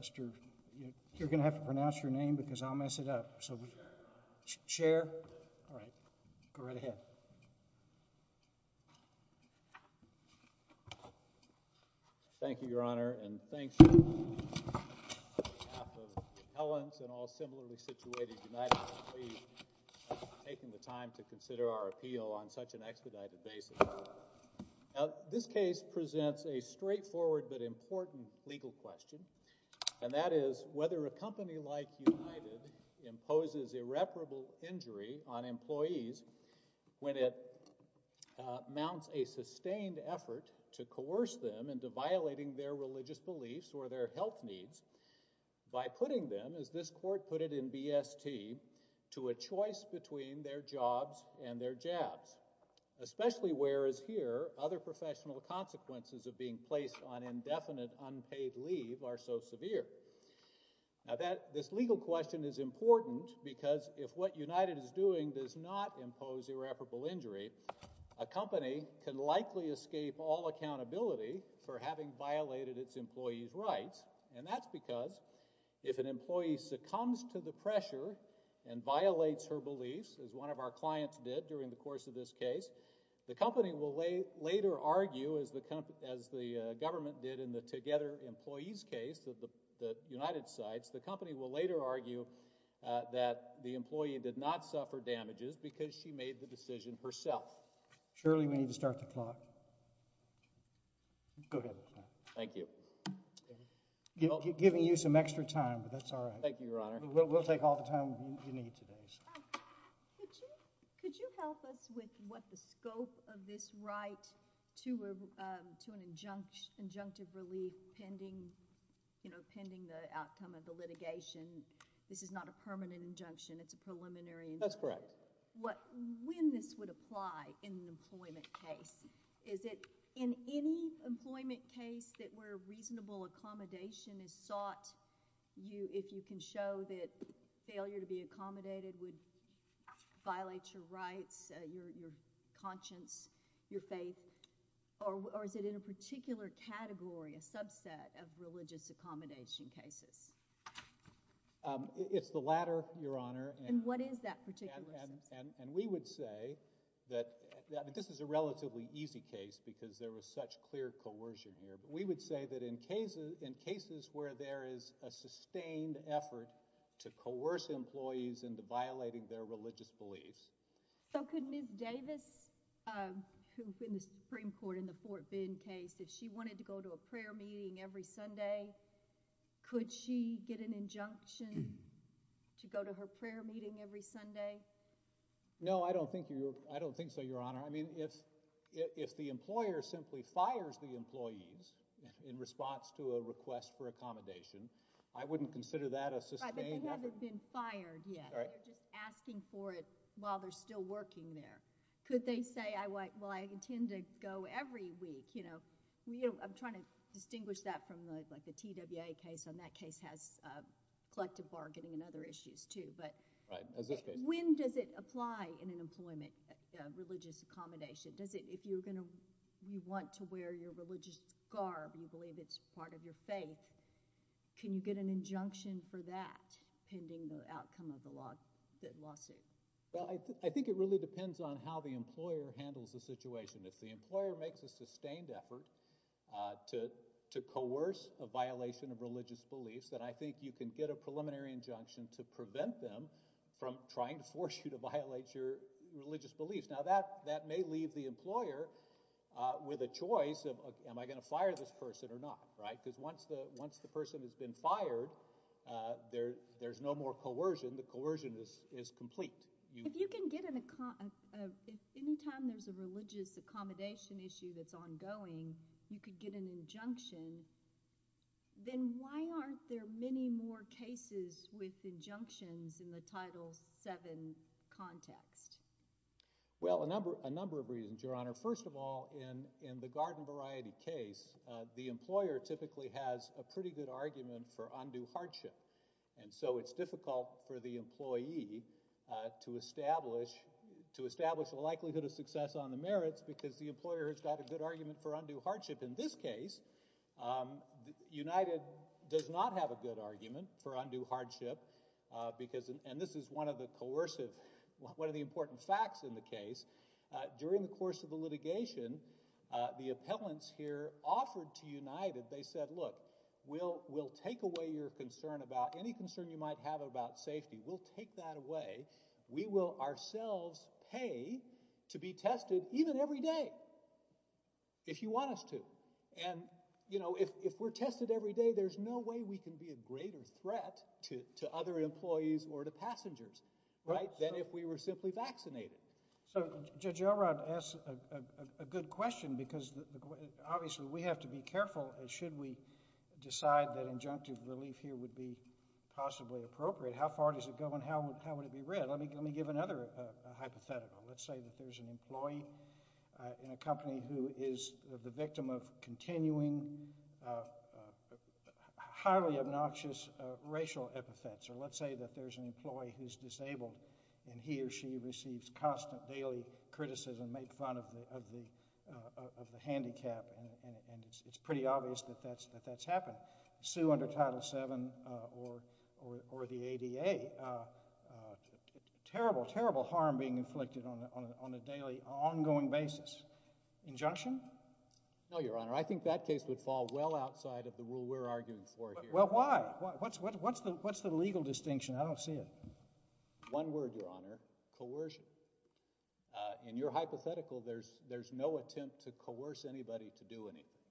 Mr. you're gonna have to pronounce your name because I'll mess it up so we share all right go right ahead thank you your honor and thank you Helens and all similarly situated United taking the time to consider our appeal on such an expedited basis now this case presents a straightforward but important legal question and that is whether a company like United imposes irreparable injury on employees when it mounts a sustained effort to coerce them into violating their religious beliefs or their health needs by putting them as this court put it in BST to a choice between their jobs and their jabs especially whereas here other professional consequences of being placed on indefinite unpaid leave are so severe now that this legal question is important because if what United is doing does not impose irreparable injury a company can likely escape all accountability for having violated its employees rights and that's because if an employee succumbs to the pressure and violates her beliefs as one of our clients did during the course of this case the company will later argue as the government did in the together employees case of the United sites the company will later argue that the employee did not suffer damages because she made the decision herself Shirley we need to start the clock thank you giving you some extra time but that's all right thank you your honor we'll take all the time you need today could you help us with what the scope of this right to a to an injunct injunctive relief pending you know pending the outcome of the litigation this is not a permanent injunction it's a preliminary that's correct what when this would apply in an employment case is it in any employment case that were reasonable accommodation is sought you if you can show that failure to be accommodated would violate your rights your conscience your faith or is it in a particular category a subset of religious accommodation cases it's the latter your honor and what is that particular and we would say that this is a relatively easy case because there was such clear coercion here but we would say that in cases in cases where there is a sustained effort to coerce employees into violating their religious beliefs so could move Davis Supreme Court in the Fort Bend case if she wanted to go to a prayer meeting every Sunday could she get an injunction to go to her prayer meeting every Sunday no I don't think you I don't think so your honor I mean it's if the employer simply fires the employees in response to a request for accommodation I wouldn't consider that a sustained asking for it while they're still working there could they say I like well I intend to go every week you know I'm trying to distinguish that from like the TWA case on that case has collective bargaining and other issues too but when does it apply in an employment religious accommodation does it if you're gonna you want to wear your religious garb you get an injunction for that pending the outcome of the law lawsuit I think it really depends on how the employer handles the situation if the employer makes a sustained effort to to coerce a violation of religious beliefs that I think you can get a preliminary injunction to prevent them from trying to force you to violate your religious beliefs now that that may leave the employer with a choice of am I going to fire this person or not right because once the once the person has been fired there there's no more coercion the coercion is is complete you can get in a car anytime there's a religious accommodation issue that's ongoing you could get an injunction then why aren't there many more cases with injunctions in the title 7 context well a number a number of reasons your honor first of all in in the garden variety case the employer typically has a pretty good argument for undue hardship and so it's difficult for the employee to establish to establish a likelihood of success on the merits because the employer has got a good argument for undue hardship in this case United does not have a good argument for undue hardship because and this is one of the coercive what are the important facts in the case during the United they said look we'll we'll take away your concern about any concern you might have about safety we'll take that away we will ourselves pay to be tested even every day if you want us to and you know if we're tested every day there's no way we can be a greater threat to other employees or to passengers right than if we were simply vaccinated so Judge Elrod asked a good question because obviously we have to be careful and should we decide that injunctive relief here would be possibly appropriate how far does it go and how would how would it be read let me give me give another hypothetical let's say that there's an employee in a company who is the victim of continuing highly obnoxious racial epithets or let's say that there's an employee who's disabled and he or she receives constant daily criticism made fun of the of the handicap and it's pretty obvious that that's that that's happened sue under title 7 or or the ADA terrible terrible harm being inflicted on a daily ongoing basis injunction no your honor I think that case would fall well outside of the rule we're arguing for here well why what's what's the what's the legal distinction I don't see it one word your honor coercion in your hypothetical there's there's no attempt to coerce anybody to do anything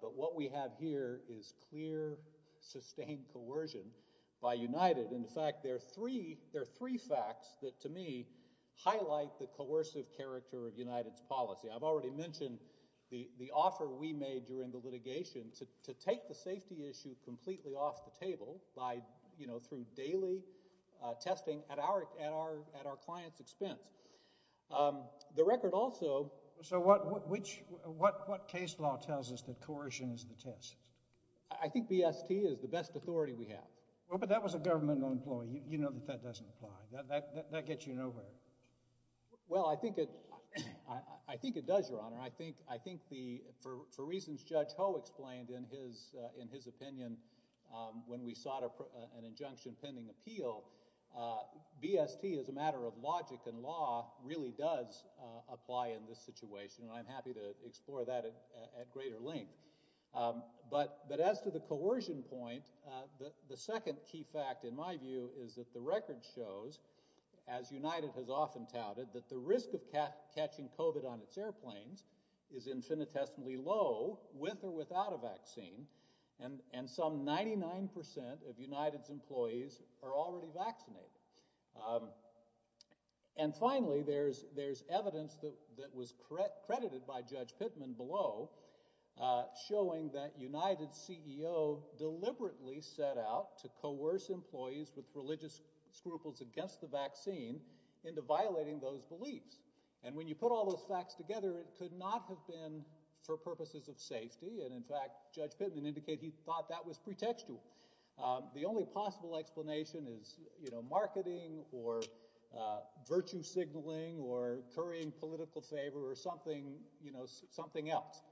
but what we have here is clear sustained coercion by United in fact there are three there are three facts that to me highlight the coercive character of United's policy I've already mentioned the the offer we made during the litigation to take the through daily testing at our at our at our clients expense the record also so what which what what case law tells us that coercion is the test I think BST is the best authority we have well but that was a governmental employee you know that that doesn't apply that that gets you nowhere well I think it I think it does your honor I think I think the for reasons judge Ho explained in his in his impending appeal BST is a matter of logic and law really does apply in this situation and I'm happy to explore that at greater length but but as to the coercion point the the second key fact in my view is that the record shows as United has often touted that the risk of catching COVID on its airplanes is infinitesimally low with or without a vaccine and and some 99% of United's employees are already vaccinated and finally there's there's evidence that that was correct credited by judge Pittman below showing that United CEO deliberately set out to coerce employees with religious scruples against the vaccine into violating those beliefs and when you put all those facts together it could not have been for purposes of safety and in fact judge Pittman he thought that was pretextual the only possible explanation is you know marketing or virtue signaling or currying political favor or something you know something else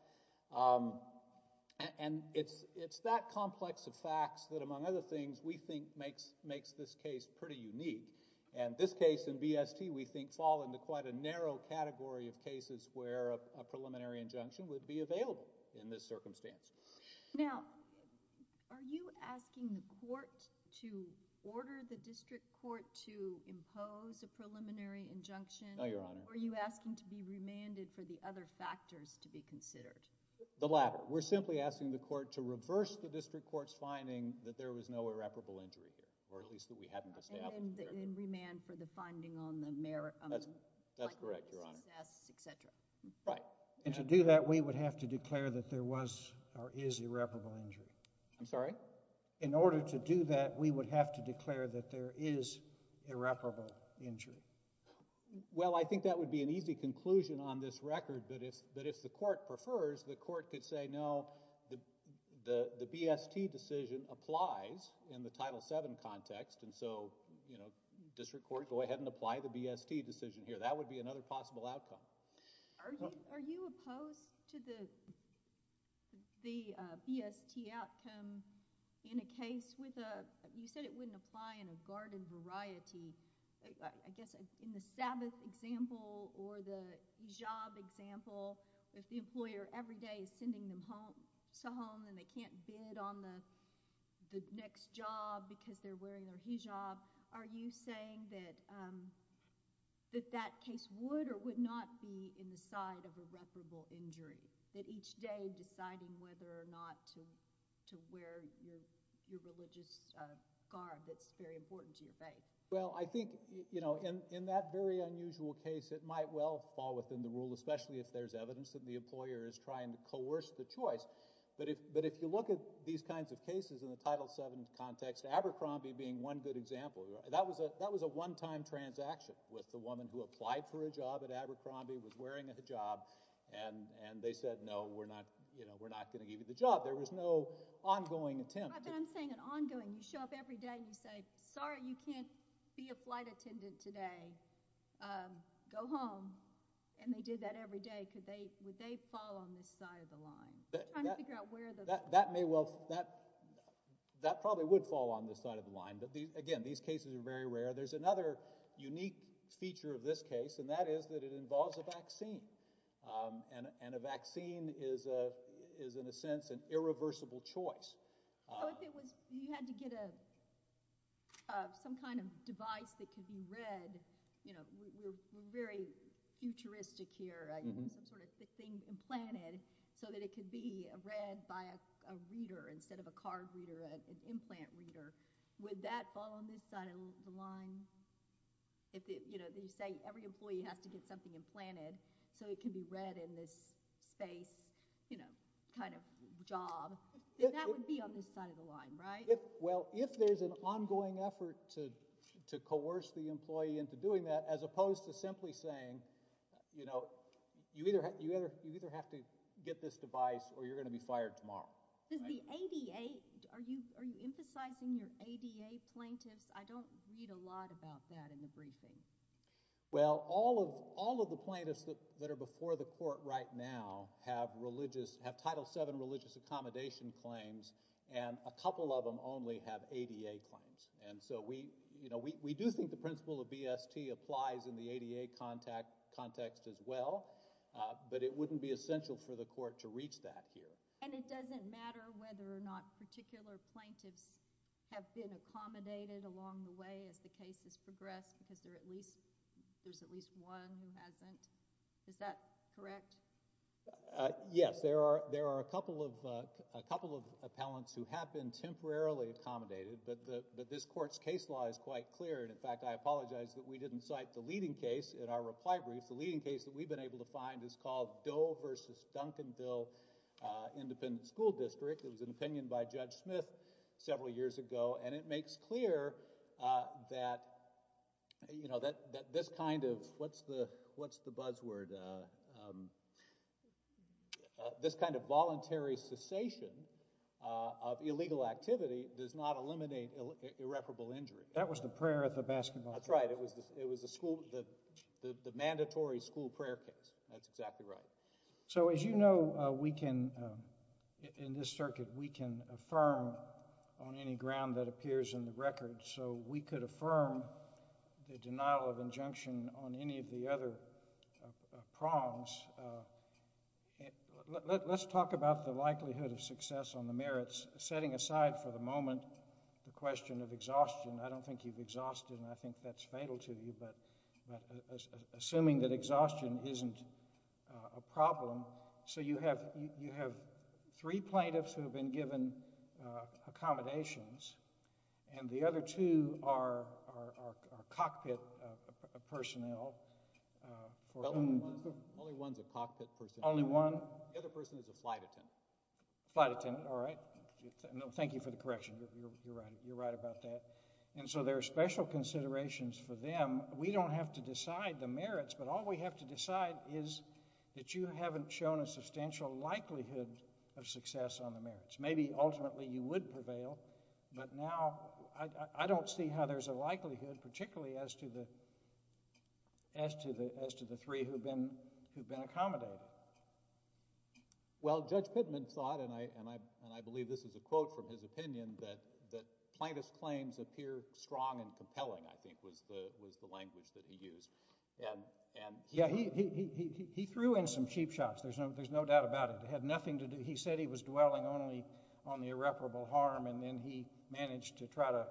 and it's it's that complex of facts that among other things we think makes makes this case pretty unique and this case in BST we think fall into quite a narrow category of cases where a preliminary injunction would be available in this circumstance now are you asking the court to order the district court to impose a preliminary injunction oh your honor are you asking to be remanded for the other factors to be considered the latter we're simply asking the court to reverse the district court's finding that there was no irreparable injury or at least that we haven't established and remand for the finding on the merit that's correct your honor etc right and to do that we would have to declare that there was or is irreparable injury I'm sorry in order to do that we would have to declare that there is irreparable injury well I think that would be an easy conclusion on this record but if but if the court prefers the court could say no the the the BST decision applies in the title 7 context and so you know district court go ahead and apply the to the the BST outcome in a case with a you said it wouldn't apply in a garden variety I guess in the sabbath example or the hijab example if the employer every day is sending them home so home and they can't bid on the the next job because they're wearing their hijab are you saying that that that case would or would not be in the side of irreparable injury that each day deciding whether or not to to wear your your religious uh guard that's very important to your faith well I think you know in in that very unusual case it might well fall within the rule especially if there's evidence that the employer is trying to coerce the choice but if but if you look at these kinds of cases in the title 7 context Abercrombie being one good example that was a that was a one-time transaction with the woman who applied for a job at Abercrombie was wearing a hijab and and they said no we're not you know we're not going to give you the job there was no ongoing attempt I'm saying an ongoing you show up every day you say sorry you can't be a flight attendant today um go home and they did that every day could they would they fall on this side of the line trying to figure out where that that may well that that probably would fall on this side of line but these again these cases are very rare there's another unique feature of this case and that is that it involves a vaccine um and and a vaccine is a is in a sense an irreversible choice if it was you had to get a some kind of device that could be read you know we're very futuristic here some sort of thing implanted so that it could be read by a reader instead of a implant reader would that fall on this side of the line if it you know they say every employee has to get something implanted so it can be read in this space you know kind of job that would be on this side of the line right well if there's an ongoing effort to to coerce the employee into doing that as opposed to simply saying you know you either you either you either have to get this device or you're going to be fired tomorrow the ADA are you are you emphasizing your ADA plaintiffs I don't read a lot about that in the briefing well all of all of the plaintiffs that are before the court right now have religious have title 7 religious accommodation claims and a couple of them only have ADA claims and so we you know we we do think the principle of BST applies in the ADA contact context as well but it wouldn't be essential for the court to reach that here and it doesn't matter whether or not particular plaintiffs have been accommodated along the way as the case has progressed because there at least there's at least one who hasn't is that correct yes there are there are a couple of a couple of appellants who have been temporarily accommodated but the but this court's case law is quite clear and in fact I apologize that we didn't cite the leading case in our reply brief the leading case that we've been able to find is called versus Duncanville uh independent school district it was an opinion by Judge Smith several years ago and it makes clear uh that you know that that this kind of what's the what's the buzzword uh um this kind of voluntary cessation uh of illegal activity does not eliminate irreparable injury that was the prayer at the basketball that's right it was it was the school the the mandatory school prayer case that's exactly right so as you know we can in this circuit we can affirm on any ground that appears in the record so we could affirm the denial of injunction on any of the other prongs let's talk about the likelihood of success on the merits setting aside for the moment the question of exhaustion I don't think you've but but assuming that exhaustion isn't a problem so you have you have three plaintiffs who have been given accommodations and the other two are are cockpit personnel only one's a cockpit person only one the other person is a flight attendant flight attendant all right no thank you for the considerations for them we don't have to decide the merits but all we have to decide is that you haven't shown a substantial likelihood of success on the merits maybe ultimately you would prevail but now I I don't see how there's a likelihood particularly as to the as to the as to the three who've been who've been accommodated well Judge Pittman thought and I and I and I believe this is a quote from his opinion that that plaintiff's claims appear strong and compelling I think was the was the language that he used and and yeah he he he he threw in some cheap shots there's no there's no doubt about it they had nothing to do he said he was dwelling only on the irreparable harm and then he managed to try to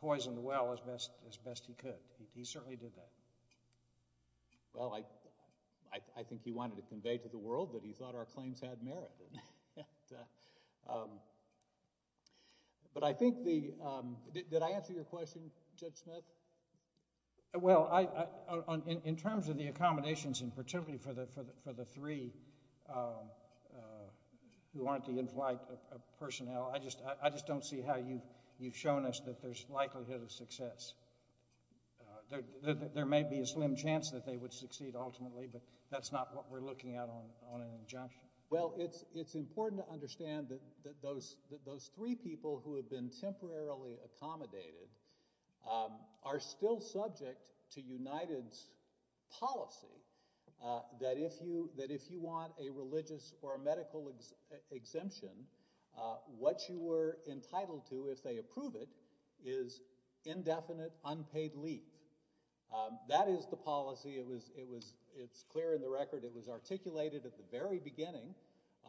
poison the well as best as best he could he certainly did that well I I think he wanted to convey to the world that he thought our claims had merit uh um but I think the um did I answer your question Judge Smith well I I on in terms of the accommodations in particularly for the for the for the three um uh who aren't the in-flight personnel I just I just don't see how you you've shown us that there's likelihood of success uh there there may be a slim chance that they would succeed ultimately but that's not what we're looking at on on an injunction well it's it's important to understand that that those that those three people who have been temporarily accommodated um are still subject to united's policy uh that if you that if you want a religious or a medical exemption uh what you were entitled to if they approve it is indefinite unpaid leave um that is the policy it was it was it's clear in the record it was articulated at the very beginning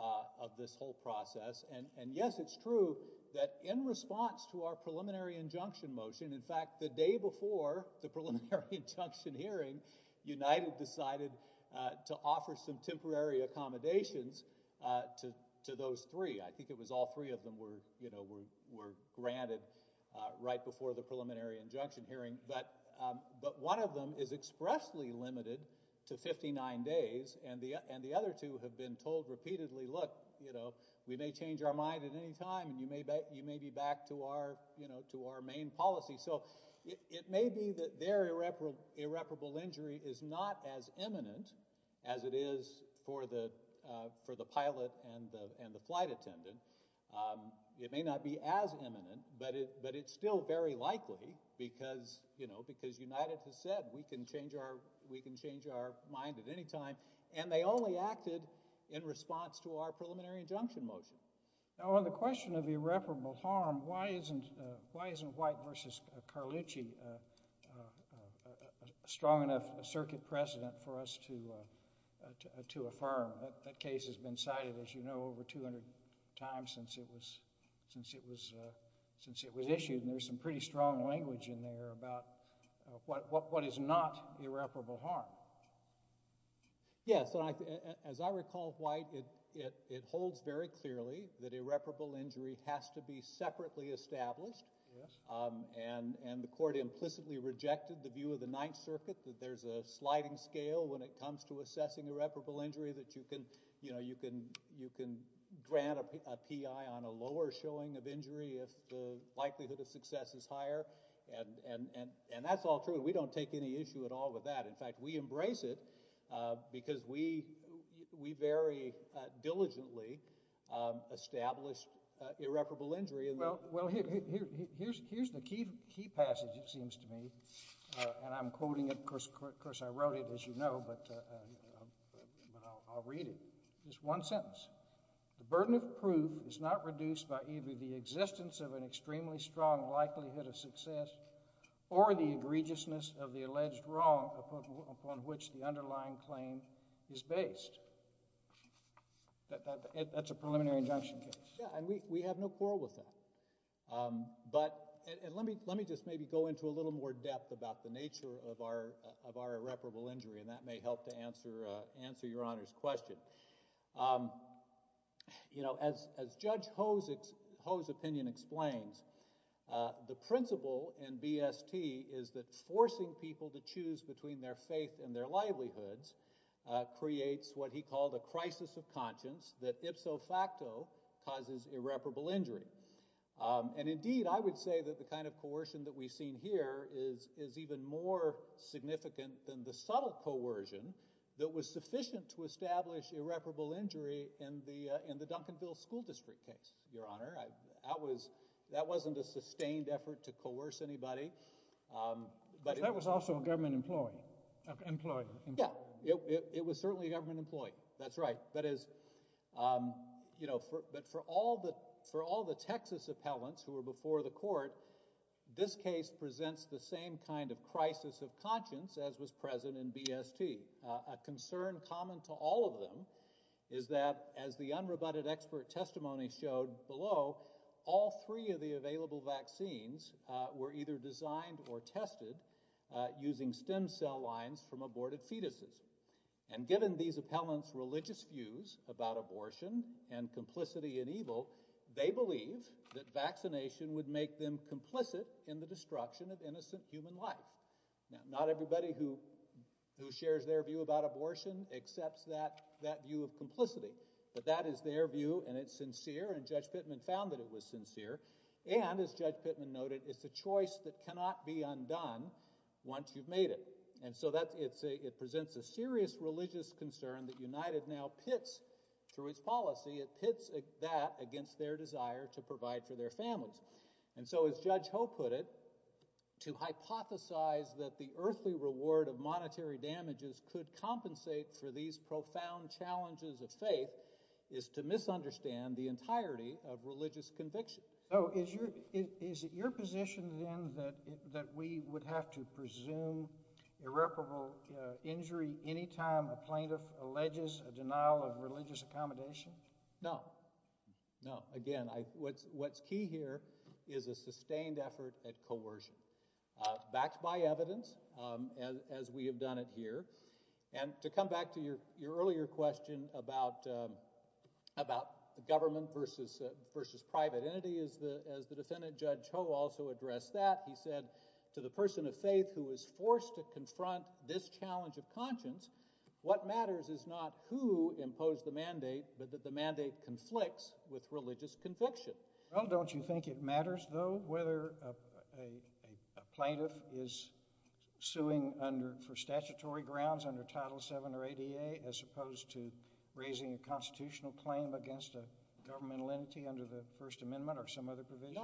uh of this whole process and and yes it's true that in response to our preliminary injunction motion in fact the day before the preliminary injunction hearing united decided uh to offer some temporary accommodations uh to to those three I think it was all three of them were you know were were granted uh right before the preliminary injunction hearing but um but one of them is expressly limited to 59 days and the and the other two have been told repeatedly look you know we may change our mind at any time and you may bet you may be back to our you know to our main policy so it may be that their irreparable injury is not as imminent as it is for the uh for the pilot and the flight attendant um it may not be as imminent but it but it's still very likely because you know because united has said we can change our we can change our mind at any time and they only acted in response to our preliminary injunction motion now on the question of irreparable harm why isn't why isn't white versus carlucci a strong enough circuit precedent for us to uh to affirm that case has been cited as you know over 200 times since it was since it was uh since it was issued and there's some pretty strong language in there about what what is not irreparable harm yes as i recall white it it it holds very clearly that irreparable injury has to be separately established um and and the court implicitly rejected the view of the ninth circuit that there's a sliding scale when it comes to assessing irreparable injury that you can you can you can grant a p.i. on a lower showing of injury if the likelihood of success is higher and and and that's all true we don't take any issue at all with that in fact we embrace it uh because we we very uh diligently um established uh irreparable injury and well well here here here's here's the key key passage it seems to me uh and i'm quoting it of course of course i wrote it as you know but uh but i'll read it just one sentence the burden of proof is not reduced by either the existence of an extremely strong likelihood of success or the egregiousness of the alleged wrong upon which the underlying claim is based that that that's a preliminary injunction case yeah and we we have no quarrel with that um but and let me let me just maybe go into a little more depth about the nature of our of our irreparable injury and that may help to answer uh answer your honor's question um you know as as judge ho's ho's opinion explains uh the principle in bst is that forcing people to choose between their faith and their livelihoods creates what he called a crisis of conscience that ipso facto causes irreparable injury and indeed i would say that the kind of coercion that we've seen here is is even more significant than the subtle coercion that was sufficient to establish irreparable injury in the in the duncanville school district case your honor i that was that wasn't a sustained effort to coerce anybody um but that was also a government employee employed yeah it was certainly a government employee that's right that is um you know for but for all the for all the texas appellants who were before the court this case presents the same kind of crisis of conscience as was present in bst a concern common to all of them is that as the unrebutted expert testimony showed below all three of the available vaccines were either designed or tested using stem cell lines from aborted fetuses and given these appellants religious views about abortion and complicity and evil they believe that vaccination would make them complicit in the destruction of innocent human life now not everybody who who shares their view about abortion accepts that that view of complicity but that is their view and it's sincere and judge pittman found that it was sincere and as judge pittman noted it's a choice that cannot be undone once you've made it and so that it's a it presents a serious religious concern that united now pits through its policy it pits that against their desire to provide for their families and so as judge ho put it to hypothesize that the earthly reward of monetary damages could compensate for these profound challenges of faith is to misunderstand the entirety of religious conviction so is your is it your position then that that we would have to presume irreparable injury anytime a plaintiff alleges a denial of religious accommodation no no again i what's what's key here is a sustained effort at coercion backed by evidence um as we have done it here and to come back to your your earlier question about about government versus uh versus private entity is the as the defendant judge ho also addressed that he said to the person of faith who was forced to confront this challenge of conscience what matters is not who imposed the mandate but that the mandate conflicts with religious conviction well don't you think it matters though whether a plaintiff is suing under for statutory grounds under title 7 or 8 ea as opposed to raising a constitutional claim against a governmental under the first amendment or some other provision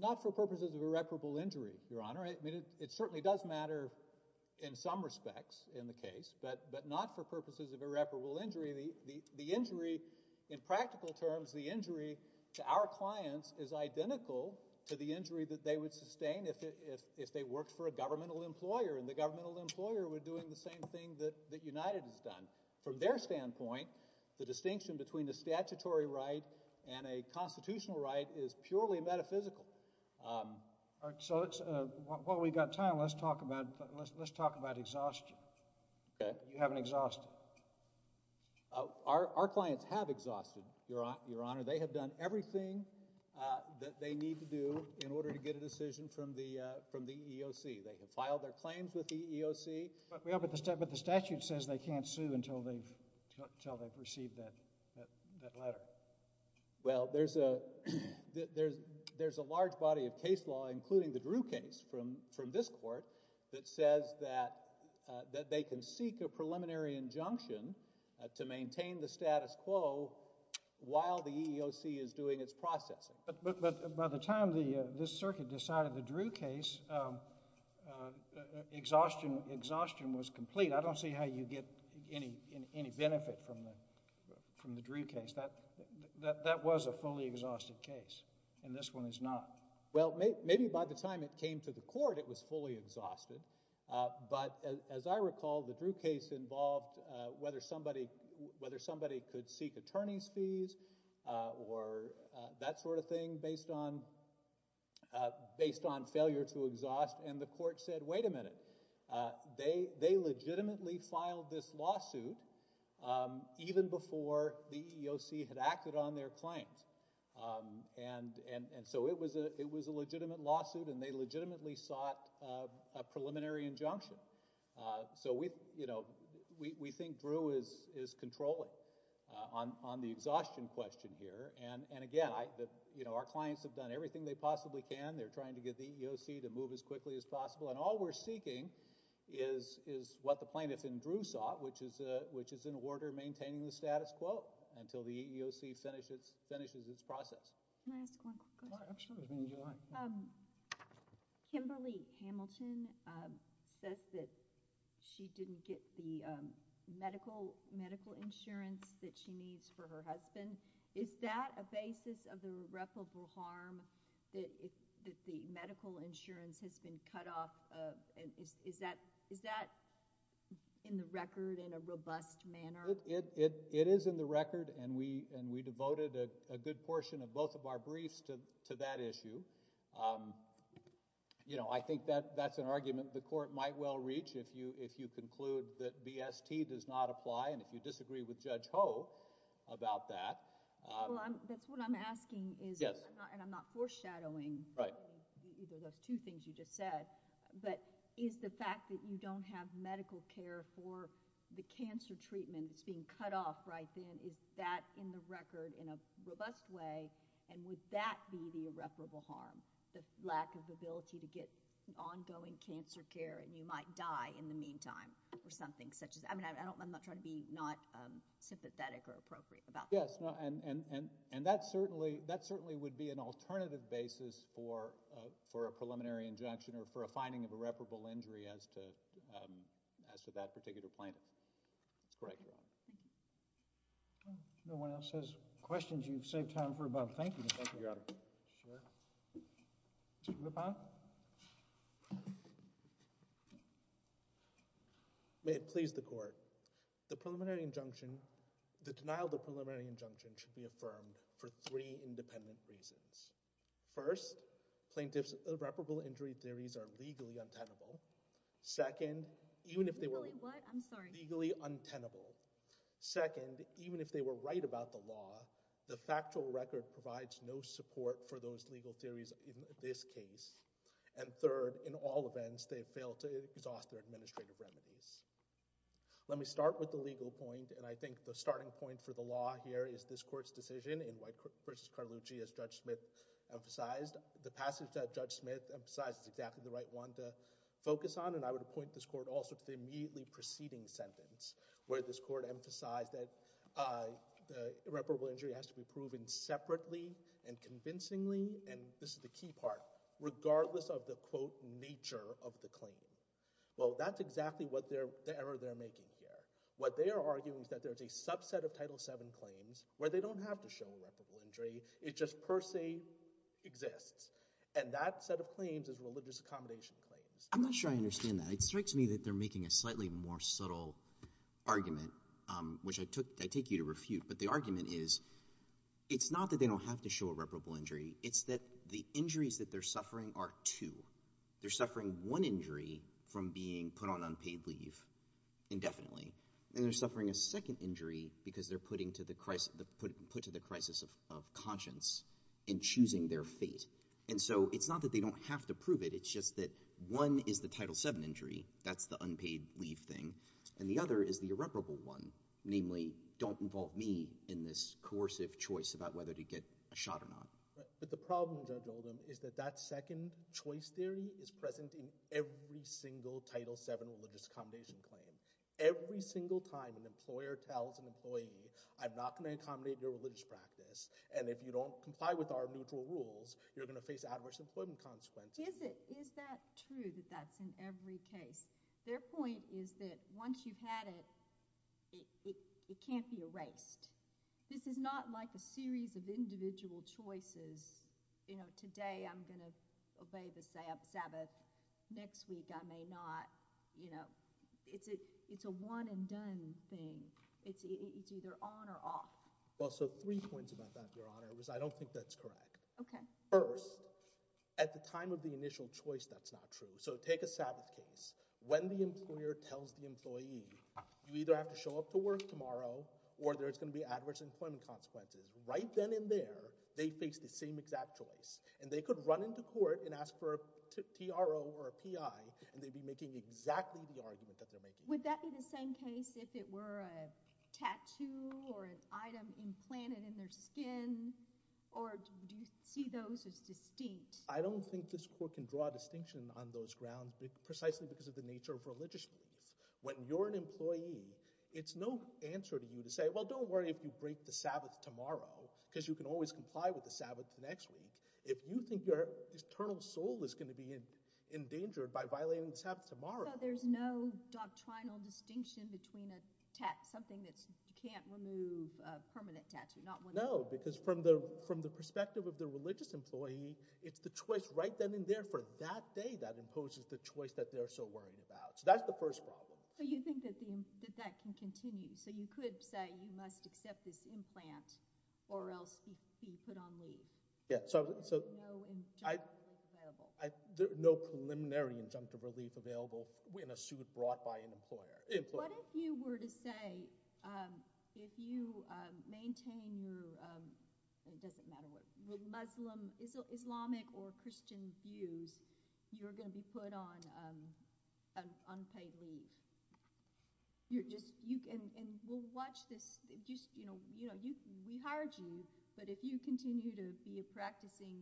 not for purposes of irreparable injury your honor i mean it certainly does matter in some respects in the case but but not for purposes of irreparable injury the the injury in practical terms the injury to our clients is identical to the injury that they would sustain if it if they worked for a governmental employer and the governmental employer would doing the same thing that that united has done from their standpoint the constitutional right is purely metaphysical um all right so it's uh while we've got time let's talk about let's let's talk about exhaustion okay you haven't exhausted uh our our clients have exhausted your honor they have done everything uh that they need to do in order to get a decision from the uh from the eoc they have filed their claims with the eoc but we have at the step but statute says they can't sue until they've until they've received that that letter well there's a that there's there's a large body of case law including the drew case from from this court that says that that they can seek a preliminary injunction to maintain the status quo while the eoc is doing its processing but but by the time the this circuit decided the drew case uh exhaustion exhaustion was complete i don't see how you get any any benefit from the from the drew case that that that was a fully exhausted case and this one is not well maybe by the time it came to the court it was fully exhausted uh but as i recall the drew case involved uh whether somebody whether somebody could seek attorney's fees uh or that sort of and the court said wait a minute uh they they legitimately filed this lawsuit um even before the eoc had acted on their claims um and and and so it was a it was a legitimate lawsuit and they legitimately sought a preliminary injunction uh so we you know we we think drew is is controlling on on the exhaustion question here and and again i that you know our clients have done everything they possibly can they're trying to get the eoc to move as quickly as possible and all we're seeking is is what the plaintiff in drew sought which is a which is in order maintaining the status quo until the eoc finishes finishes its process can i ask one question um kimberly hamilton um says that she didn't get the um medical medical insurance that she needs for her husband is that a basis of the irreparable harm that if the medical insurance has been cut off uh and is is that is that in the record in a robust manner it it it is in the record and we and we devoted a good portion of both of our briefs to to that issue um you know i think that that's an argument the court might well reach if you if you conclude that bst does not apply and you disagree with judge ho about that well i'm that's what i'm asking is yes and i'm not foreshadowing right those two things you just said but is the fact that you don't have medical care for the cancer treatment that's being cut off right then is that in the record in a robust way and would that be the irreparable harm the lack of ability to get ongoing cancer care and you i'm not trying to be not um sympathetic or appropriate about yes no and and and and that certainly that certainly would be an alternative basis for uh for a preliminary injunction or for a finding of irreparable injury as to um as to that particular plaintiff that's correct no one else has questions you've saved time for about thank you thank you your honor sure uh may it please the court the preliminary injunction the denial of the preliminary injunction should be affirmed for three independent reasons first plaintiffs irreparable injury theories are legally untenable second even if they were what i'm sorry legally untenable second even if they were right about the law the factual record provides no support for those legal theories in this case and third in all events they fail to exhaust their administrative remedies let me start with the legal point and i think the starting point for the law here is this court's decision in white versus carlucci as judge smith emphasized the passage that judge smith emphasizes exactly the right one to focus on and i would appoint this court also to the immediately preceding sentence where this court emphasized that uh the irreparable injury has to be proven separately and convincingly and this is the key part regardless of the quote nature of the claim well that's exactly what they're the error they're making here what they are arguing is that there's a subset of title seven claims where they don't have to show irreparable injury it just per se exists and that set of claims is religious accommodation claims i'm not sure i understand that it strikes me that they're making a slightly more subtle argument um which i took i take you refute but the argument is it's not that they don't have to show irreparable injury it's that the injuries that they're suffering are two they're suffering one injury from being put on unpaid leave indefinitely and they're suffering a second injury because they're putting to the crisis put to the crisis of conscience in choosing their fate and so it's not that they don't have to prove it it's just that one is the title seven injury that's the unpaid leave thing and the me in this coercive choice about whether to get a shot or not but the problem is that that second choice theory is present in every single title seven religious accommodation claim every single time an employer tells an employee i'm not going to accommodate your religious practice and if you don't comply with our neutral rules you're going to face adverse employment consequences is it is this is not like a series of individual choices you know today i'm gonna obey the sabbath next week i may not you know it's it it's a one and done thing it's it's either on or off well so three points about that your honor was i don't think that's correct okay first at the time of the initial choice that's not true so take a sabbath case when the employer tells the employee you either have to show up to work tomorrow or there's going to be adverse employment consequences right then and there they face the same exact choice and they could run into court and ask for a tro or a pi and they'd be making exactly the argument that they're making would that be the same case if it were a tattoo or an item implanted in their skin or do you see those as distinct i don't think this court can draw a distinction on those grounds precisely because of the nature of religious beliefs when you're an employee it's no answer to you to say well don't worry if you break the sabbath tomorrow because you can always comply with the sabbath next week if you think your eternal soul is going to be in endangered by violating sabbath tomorrow there's no doctrinal distinction between a tat something that's you can't remove a permanent tattoo not one no because from the from the perspective of the religious employee it's the that imposes the choice that they're so worried about so that's the first problem so you think that the that can continue so you could say you must accept this implant or else be put on leave yeah so so no preliminary injunctive relief available in a suit brought by an employer what if you were to say um if you um maintain your um it doesn't matter what muslim islamic or christian views you're going to be put on um unpaid leave you're just you can and we'll watch this just you know you know you we hired you but if you continue to be a practicing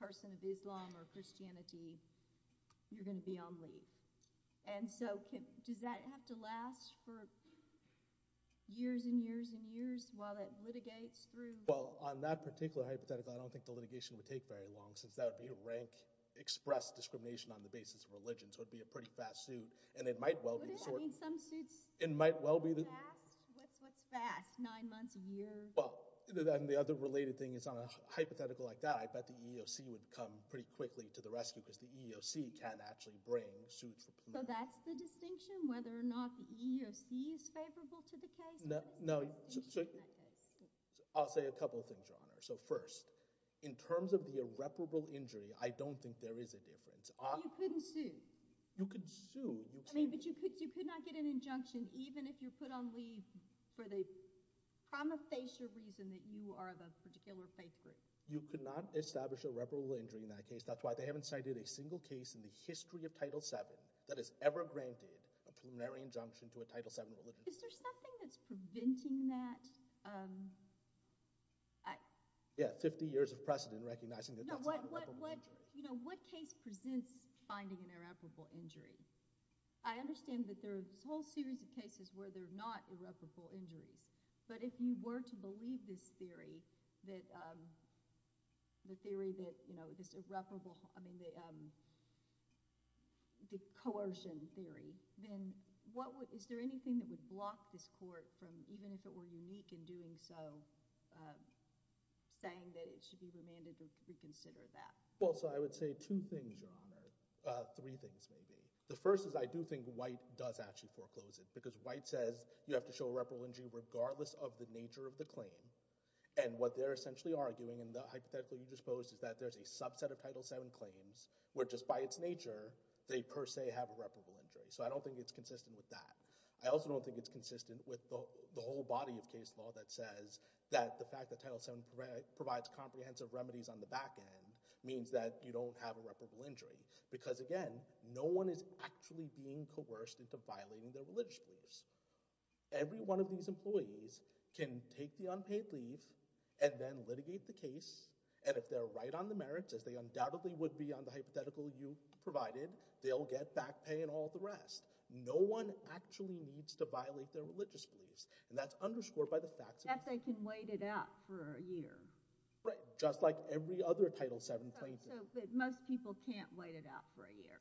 person of islam or christianity you're going to be on leave and so can does that have to last for years and years and years while that litigates through well on that particular hypothetical i don't think the rank expressed discrimination on the basis of religion so it'd be a pretty fast suit and it might well be some suits it might well be the fast what's what's fast nine months a year well then the other related thing is on a hypothetical like that i bet the eoc would come pretty quickly to the rescue because the eoc can actually bring suits so that's the distinction whether or not the eoc is favorable to the case no no i'll say a couple of things so first in terms of the irreparable injury i don't think there is a difference you couldn't sue you could sue i mean but you could you could not get an injunction even if you're put on leave for the promofacial reason that you are the particular faith group you could not establish irreparable injury in that case that's why they haven't cited a single case in the history of title 7 that has ever granted a preliminary injunction to a title 7 is there something that's preventing that um i yeah 50 years of precedent recognizing that what what what you know what case presents finding an irreparable injury i understand that there are a whole series of cases where they're not irreparable injuries but if you were to believe this theory that um the theory that you know this irreparable i mean the um coercion theory then what is there anything that would block this court from even if it were unique in doing so um saying that it should be demanded to reconsider that well so i would say two things your honor uh three things maybe the first is i do think white does actually foreclose it because white says you have to show a reprehend you regardless of the nature of the claim and what they're essentially arguing and the hypothetical you just posed is that there's a subset of title 7 claims where just by its nature they per se have irreparable injury so i don't think it's consistent with that i also don't think it's consistent with the whole body of case law that says that the fact that title 7 provides comprehensive remedies on the back end means that you don't have a reputable injury because again no one is actually being coerced into violating their religious beliefs every one of these employees can take the unpaid leave and then litigate the case and if they're right on the merits as they undoubtedly would be on the hypothetical you provided they'll get back pay and all the rest no one actually needs to violate their religious beliefs and that's underscored by the fact that they can wait it out for a year right just like every other title 7 plaintiff but most people can't wait it out for a year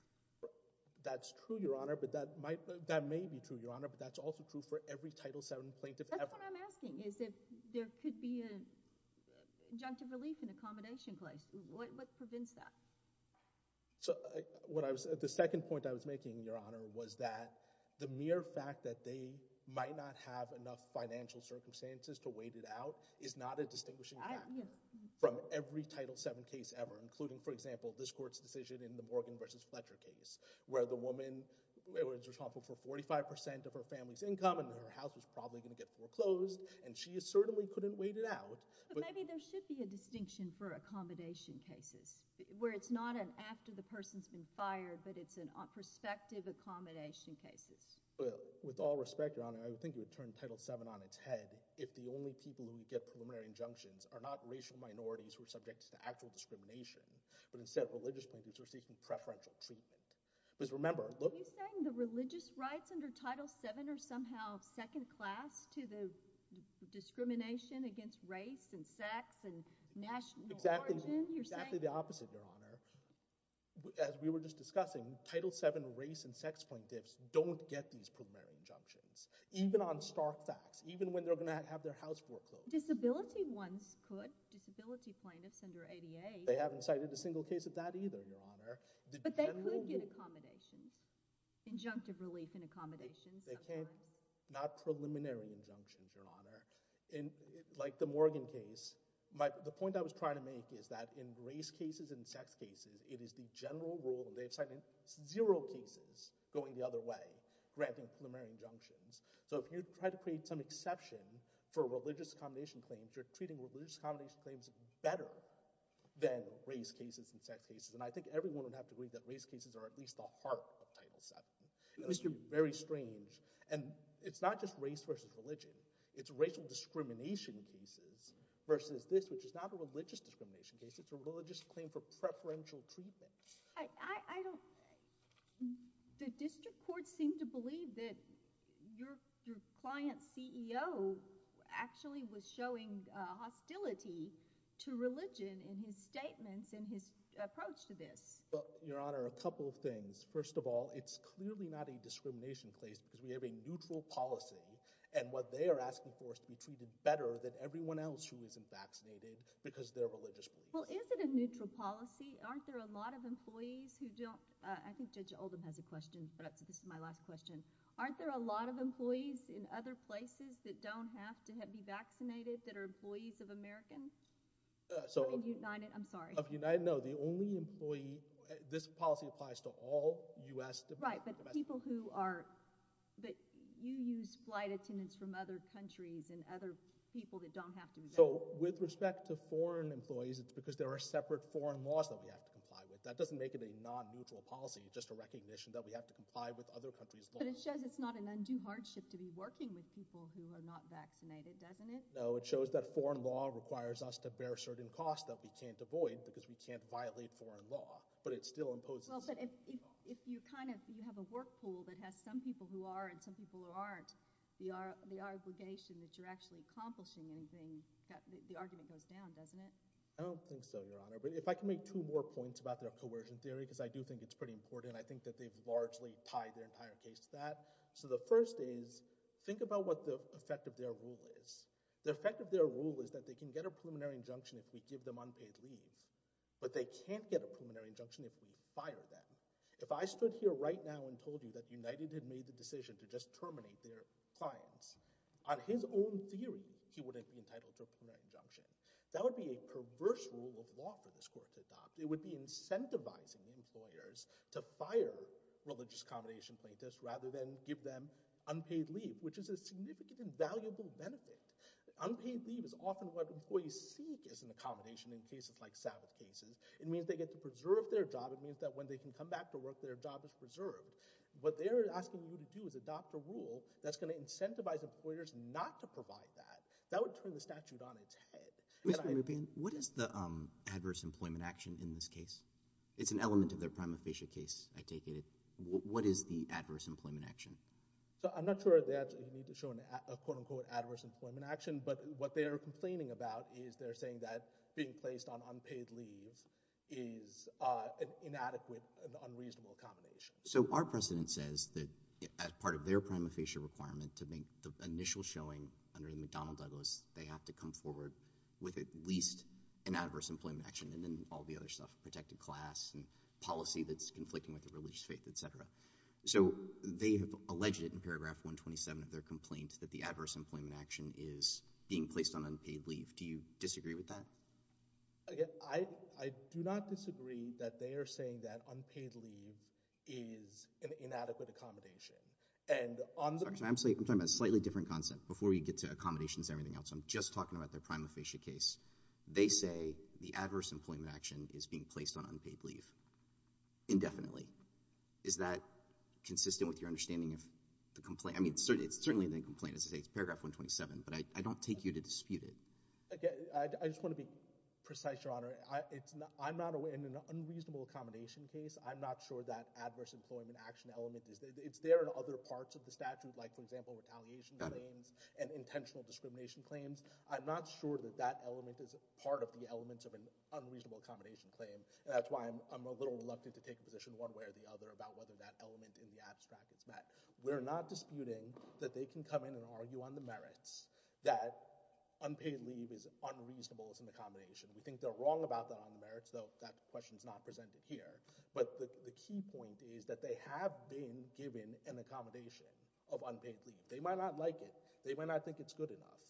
that's true your honor but that might that may be true your honor but that's also true for every title 7 plaintiff ever that's what i'm asking is if there could be an injunctive relief an accommodation clause what what prevents that so what i was the second point i was making your honor was that the mere fact that they might not have enough financial circumstances to wait it out is not a distinguishing factor from every title 7 case ever including for example this court's decision in the morgan versus fletcher case where the woman was responsible for 45 percent of her family's income and her house was probably going to get foreclosed and she certainly couldn't wait it out but maybe there should be a distinction for accommodation cases where it's not an after the person's been fired but it's an prospective accommodation cases well with all respect your honor i would think it would turn title 7 on its head if the only people who get preliminary injunctions are not racial minorities who are subject to actual discrimination but instead of religious plaintiffs who are seeking preferential treatment because remember look are you saying the religious rights under title 7 are somehow second class to the discrimination against race and sex and national origin you're exactly the opposite your honor as we were just discussing title 7 race and sex point dips don't get these primary injunctions even on stark facts even when they're going to have their house foreclosed disability ones could disability plaintiffs under 88 they haven't cited a single case of that either your honor but they could get accommodations injunctive relief in accommodations they can't not preliminary injunctions your honor in like the morgan case my the point i was trying to make is that in race cases and sex cases it is the general rule they've signed zero cases going the other way granting preliminary injunctions so if you try to create some exception for religious accommodation claims you're treating religious accommodation claims better than race cases and sex cases and i think everyone would have to believe that race cases are at least the heart of title 7 it's very strange and it's not just race versus religion it's racial discrimination cases versus this which is not a religious discrimination case it's a religious claim for preferential treatment i i don't the district court seemed to believe that your your client ceo actually was showing uh hostility to religion in his statements in his approach to this well your honor a couple of things first of all it's clearly not a discrimination place because we have a neutral policy and what they are asking for is to be treated better than everyone else who isn't vaccinated because they're religious well is it a neutral policy aren't there a lot of employees who don't i think judge oldham has a question perhaps this is my last question aren't there a lot of employees in other places that don't have to have be vaccinated that are employees of american so united i'm sorry of united no the only employee this policy applies to all u.s right but people who are but you use flight attendants from other countries and other people that don't have to so with respect to foreign employees it's because there are separate foreign laws that we have to comply with that doesn't make it a non-mutual policy just a recognition that we have to comply with other countries but it shows it's not an undue hardship to be working with people who are not vaccinated doesn't it no it shows that foreign law requires us to bear certain costs that we can't avoid because we can't violate foreign law but it still imposes well but if if you kind of you have a work pool that has some people who are and some people who aren't we are the obligation that you're actually accomplishing anything the argument goes down doesn't it i don't think so your honor but if i can make two more points about their coercion theory because i do think it's pretty important i think that they've largely tied their entire case to that so the first is think about what the effect of their rule is the effect of their rule is that they can get a preliminary injunction if we give them unpaid leave but they can't get a preliminary injunction if we fire them if i stood here right now and told you that united had made the decision to just terminate their clients on his own theory he wouldn't be entitled to a preliminary injunction that would be a perverse rule of law for this rather than give them unpaid leave which is a significant valuable benefit unpaid leave is often what employees seek is an accommodation in cases like savage cases it means they get to preserve their job it means that when they can come back to work their job is preserved what they're asking you to do is adopt a rule that's going to incentivize employers not to provide that that would turn the statute on its head what is the um adverse employment action in this case it's an element of their prima facie case i take it what is the adverse employment action so i'm not sure that you need to show a quote-unquote adverse employment action but what they are complaining about is they're saying that being placed on unpaid leave is uh inadequate an unreasonable accommodation so our precedent says that as part of their prima facie requirement to make the initial showing under the mcdonald douglas they have to come forward with at least an adverse employment action and then all the other stuff protected class and policy that's conflicting with the religious faith etc so they have alleged it in paragraph 127 of their complaint that the adverse employment action is being placed on unpaid leave do you disagree with that again i i do not disagree that they are saying that unpaid leave is an inadequate accommodation and on i'm saying i'm talking about a slightly different concept before we get to accommodations everything else i'm just talking about their prima facie case they say the adverse employment action is being placed on unpaid leave indefinitely is that consistent with your understanding of the complaint i mean it's certainly a complaint as i say it's paragraph 127 but i i don't take you to dispute it okay i just want to be precise your honor i it's not i'm not aware in an unreasonable accommodation case i'm not sure that adverse employment action element is it's there in i'm not sure that that element is part of the elements of an unreasonable accommodation claim and that's why i'm a little reluctant to take a position one way or the other about whether that element in the abstract is met we're not disputing that they can come in and argue on the merits that unpaid leave is unreasonable as an accommodation we think they're wrong about the merits though that question is not presented here but the key point is that they have been given an accommodation of unpaid they might not like it they might not think it's good enough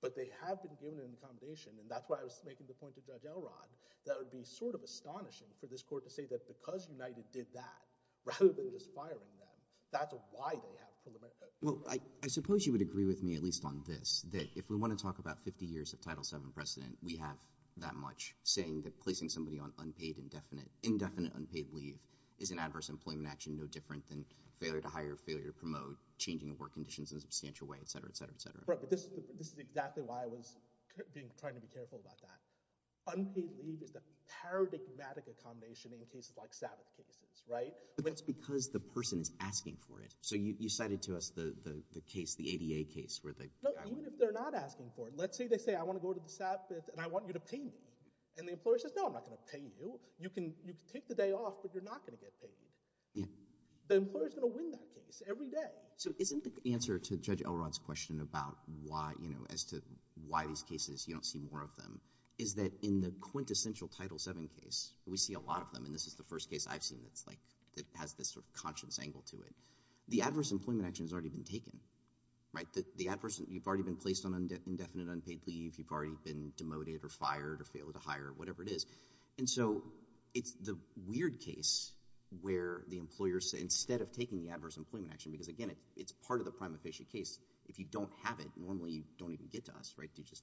but they have been given an accommodation and that's why i was making the point to judge elrond that would be sort of astonishing for this court to say that because united did that rather than aspiring them that's why they have well i suppose you would agree with me at least on this that if we want to talk about 50 years of title seven precedent we have that much saying that placing somebody on unpaid indefinite indefinite unpaid leave is an adverse employment action no different than failure to hire failure to promote changing of work conditions in a substantial way etc etc etc right but this this is exactly why i was being trying to be careful about that unpaid leave is the paradigmatic accommodation in cases like sabbath cases right but that's because the person is asking for it so you you cited to us the the case the ada case where they even if they're not asking for it let's say they say i want to go to the sabbath and i want you to pay me and the employer says no i'm not going to pay you you can you can take the day off but you're not going to yeah the employer's going to win that case every day so isn't the answer to judge elrod's question about why you know as to why these cases you don't see more of them is that in the quintessential title seven case we see a lot of them and this is the first case i've seen that's like that has this sort of conscience angle to it the adverse employment action has already been taken right the adverse you've already been placed on indefinite unpaid leave you've already been demoted or fired or failed to hire whatever it is and so it's the weird case where the employers instead of taking the adverse employment action because again it's part of the prime official case if you don't have it normally you don't even get to us right you just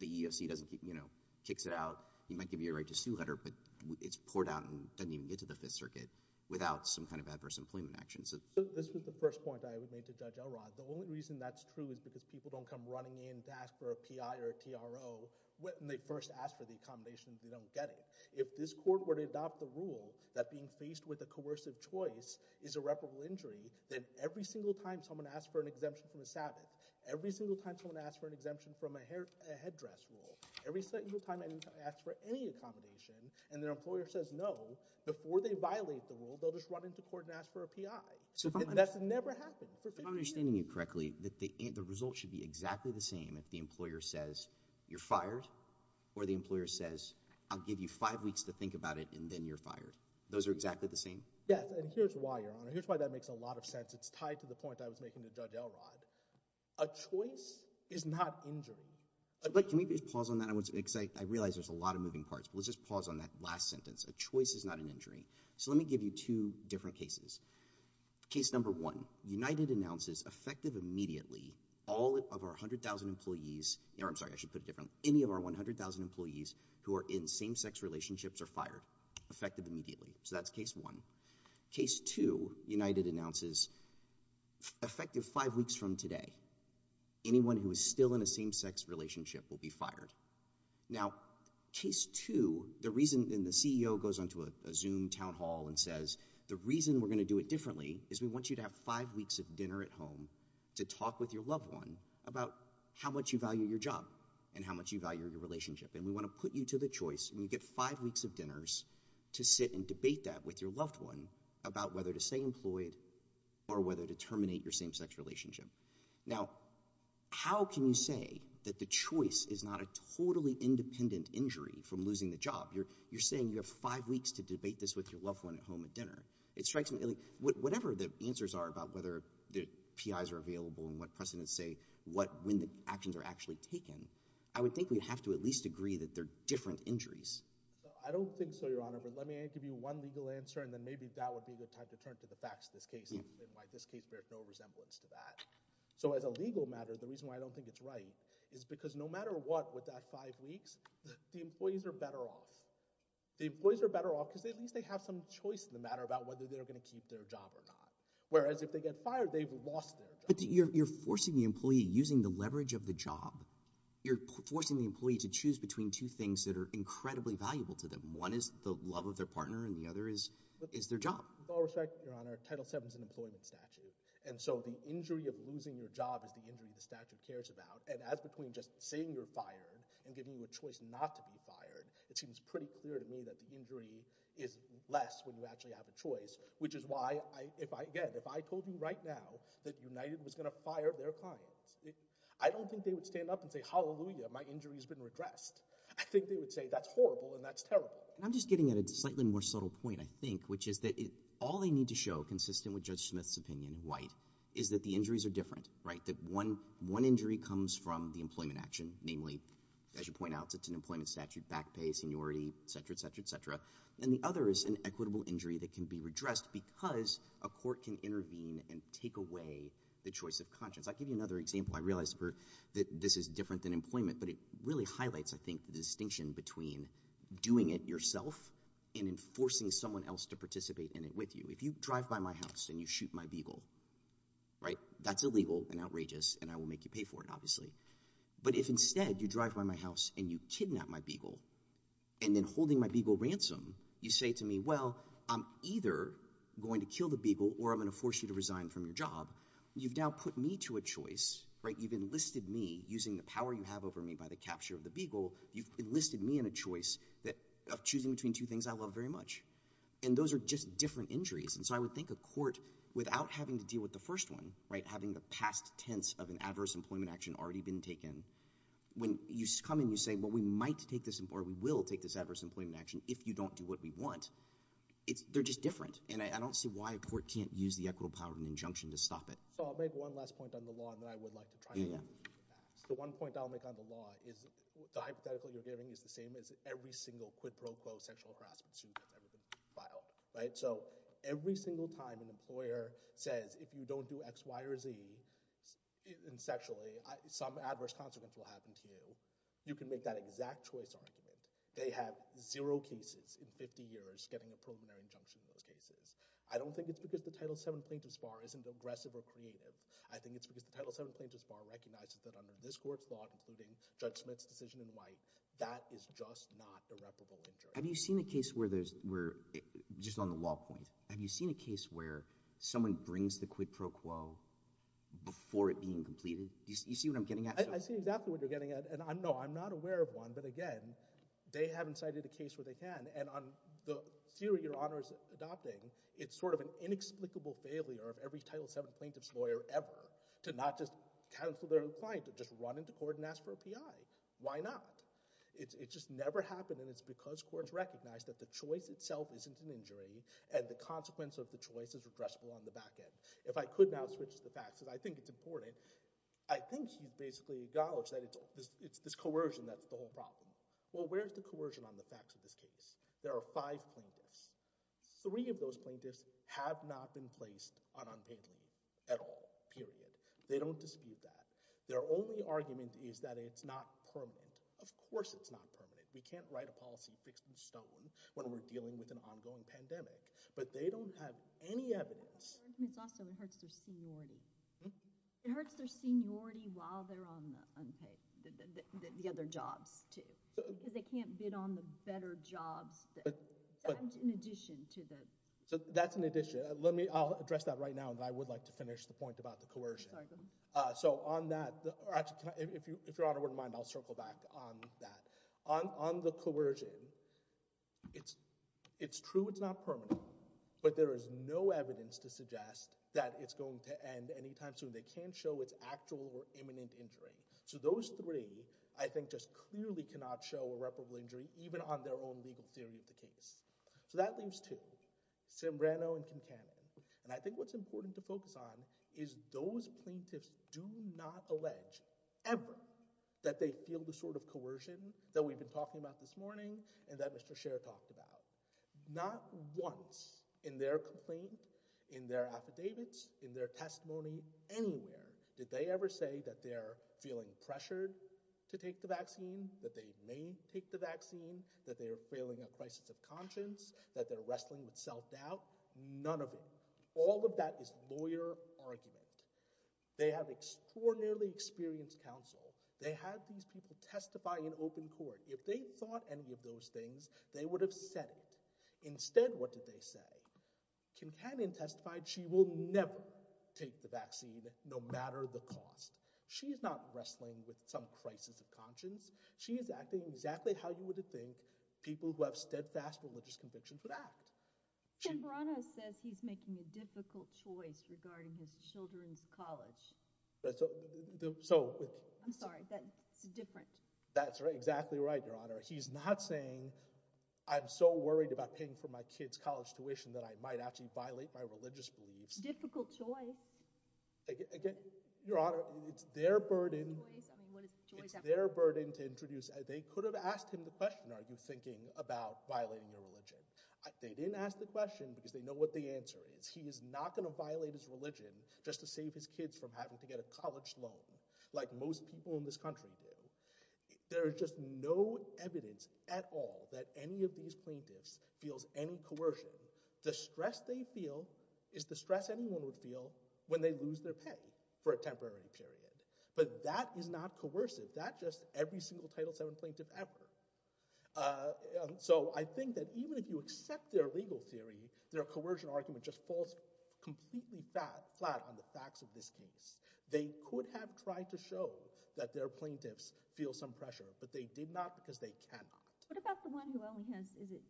the eoc doesn't keep you know kicks it out you might give you a right to sue letter but it's poured out and doesn't even get to the fifth circuit without some kind of adverse employment action so this was the first point i would make to judge elrod the only reason that's true is because people don't come running in to ask for a pi or tro when they first ask for the accommodation if you don't get it if this court were to adopt the rule that being faced with a coercive choice is irreparable injury then every single time someone asks for an exemption from the sabbath every single time someone asks for an exemption from a hair a headdress rule every single time i ask for any accommodation and their employer says no before they violate the rule they'll just run into court and ask for a pi so that's never happened if i'm understanding it correctly that the the result should be exactly the same if the employer says you're fired or the employer says i'll give you five weeks to think about it and then you're fired those are exactly the same yes and here's why your honor here's why that makes a lot of sense it's tied to the point i was making to judge elrod a choice is not injury but can we just pause on that i was excited i realize there's a lot of moving parts but let's just pause on that last sentence a choice is not an injury so let me give you two different cases case number one united announces effective immediately all of our 100 000 employees there i'm sorry i should put it differently any of our 100 000 employees who are in same-sex relationships are fired effective immediately so that's case one case two united announces effective five weeks from today anyone who is still in a same-sex relationship will be fired now case two the reason and the ceo goes onto a zoom town hall and says the reason we're going to do it differently is we want you to have five weeks of dinner at home to talk with your loved one about how much you value your job and how much you value your relationship and we want to put you to the choice when you get five weeks of dinners to sit and debate that with your loved one about whether to stay employed or whether to terminate your same-sex relationship now how can you say that the choice is not a totally independent injury from losing the job you're you're saying you have five weeks to debate this with your loved one at home at dinner it strikes me like whatever the answers are about whether the pis are available and what precedents say what when the actions are actually taken i would think we'd have to at least agree that they're different injuries i don't think so your honor but let me give you one legal answer and then maybe that would be a good time to turn to the facts this case and why this case bears no resemblance to that so as a legal matter the reason why i don't think it's right is because no matter what with that five weeks the employees are better off the employees are better off because at least they have some choice in the matter about whether they're going to keep their job or not whereas if they get fired they've lost it but you're forcing the employee using the leverage of the job you're forcing the employee to choose between two things that are incredibly valuable to them one is the love of their partner and the other is is their job with all respect your honor title 7 is an employment statute and so the injury of losing your job is the injury the statute cares about and as between just saying you're fired and giving you a choice not to be fired it seems pretty clear to me that the injury is less when you actually have a choice which is why i if i again if i told you right now that united was going to fire their clients i don't think they would stand up and say hallelujah my injury has been redressed i think they would say that's horrible and that's terrible i'm just getting at a slightly more subtle point i think which is that all they need to show consistent with judge smith's opinion white is that the injuries are different right that one one injury comes from the employment action namely as you point out it's an employment statute back pay seniority etc etc etc and the other is an equitable injury that can be redressed because a court can intervene and take away the choice of conscience i'll give you another example i realized that this is different than employment but it really highlights i think the distinction between doing it yourself and enforcing someone else to participate in it with you if you drive by my house and you shoot my beagle right that's illegal and outrageous and i will make you pay for it obviously but if instead you drive by my house and you kidnap my beagle and then holding my beagle ransom you say to me well i'm either going to kill the beagle or i'm going to force you to resign from your job you've now put me to a choice right you've enlisted me using the power you have over me by the capture of the beagle you've enlisted me in a choice that of choosing between two things i love very much and those are just different injuries and so i would think a court without having to deal with the first one right having the past tense of an adverse employment action already been taken when you come in you say well we might take this important we will take this adverse employment action if you don't do what we want it's they're just different and i don't see why a court can't use the equitable power of an injunction to stop it so i'll make one last point on the law that i would like to try the one point i'll make on the law is the hypothetical you're giving is the same as every single quid pro quo sexual harassment suit you've ever filed right so every single time an employer says if you don't do x y or z in sexually some adverse consequence will happen to you you can make that exact choice argument they have zero cases in 50 years getting a preliminary injunction in those cases i don't think it's because the title 7 plaintiffs bar isn't aggressive i think it's because the title 7 plaintiffs bar recognizes that under this court's law including judge smith's decision in white that is just not irreparable have you seen a case where there's where just on the law point have you seen a case where someone brings the quid pro quo before it being completed you see what i'm getting at i see exactly what you're getting at and i'm no i'm not aware of one but again they haven't cited a case where they can and on the theory your honor is adopting it's sort of an inexplicable failure of every title 7 plaintiff's lawyer ever to not just cancel their client to just run into court and ask for a pi why not it just never happened and it's because courts recognize that the choice itself isn't an injury and the consequence of the choice is addressable on the back end if i could now switch the facts that i think it's important i think you basically acknowledge that it's it's this coercion that's well where's the coercion on the facts of this case there are five plaintiffs three of those plaintiffs have not been placed on unpaid leave at all period they don't dispute that their only argument is that it's not permanent of course it's not permanent we can't write a policy fixed in stone when we're dealing with an ongoing pandemic but they don't have any evidence also it hurts their seniority it hurts their seniority while they're on the unpaid the other jobs too they can't bid on the better jobs but in addition to that so that's an addition let me i'll address that right now that i would like to finish the point about the coercion uh so on that if you if your honor wouldn't mind i'll circle back on that on on the coercion it's it's true it's not permanent but there is no evidence to suggest that it's going to end anytime soon they can't show its actual or imminent injury so those three i think just clearly cannot show irreparable injury even on their own legal theory of the case so that leads to simbrano and cancano and i think what's important to focus on is those plaintiffs do not allege ever that they feel the sort of once in their complaint in their affidavits in their testimony anywhere did they ever say that they're feeling pressured to take the vaccine that they may take the vaccine that they are feeling a crisis of conscience that they're wrestling with self-doubt none of them all of that is lawyer argument they have extraordinarily experienced counsel they have these people what did they say kim cannon testified she will never take the vaccine no matter the cost she's not wrestling with some crisis of conscience she is acting exactly how you would think people who have steadfast religious convictions would act kim brana says he's making a difficult choice regarding his children's college so i'm sorry that's different that's right exactly right he's not saying i'm so worried about paying for my kids college tuition that i might actually violate my religious beliefs difficult choice again your honor it's their burden it's their burden to introduce they could have asked him the question are you thinking about violating their religion they didn't ask the question because they know what the answer is he is not going to violate his religion just to save his kids from having to get a college loan like most people in this country there is just no evidence at all that any of these plaintiffs feels any coercion the stress they feel is the stress anyone would feel when they lose their pay for a temporary period but that is not coercive that just every single title seven plaintiff ever so i think that even if you accept their legal theory their coercion argument just falls completely flat flat on the facts of this case they could have tried to show that their plaintiffs feel some pressure but they did not because they cannot what about the one who only has is it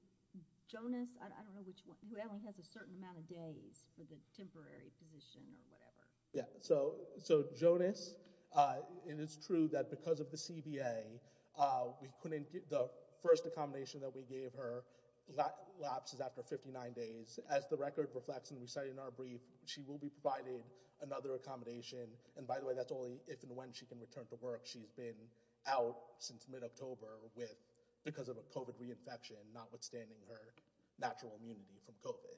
jonas i don't know which one who only has a certain amount of days for the temporary position or whatever yeah so so jonas uh and it's true that because of the cba uh we couldn't get the first accommodation that we gave her that lapses after 59 days as the record reflects and in our brief she will be providing another accommodation and by the way that's only if and when she can return to work she's been out since mid-october with because of a covid reinfection notwithstanding her natural immunity from covid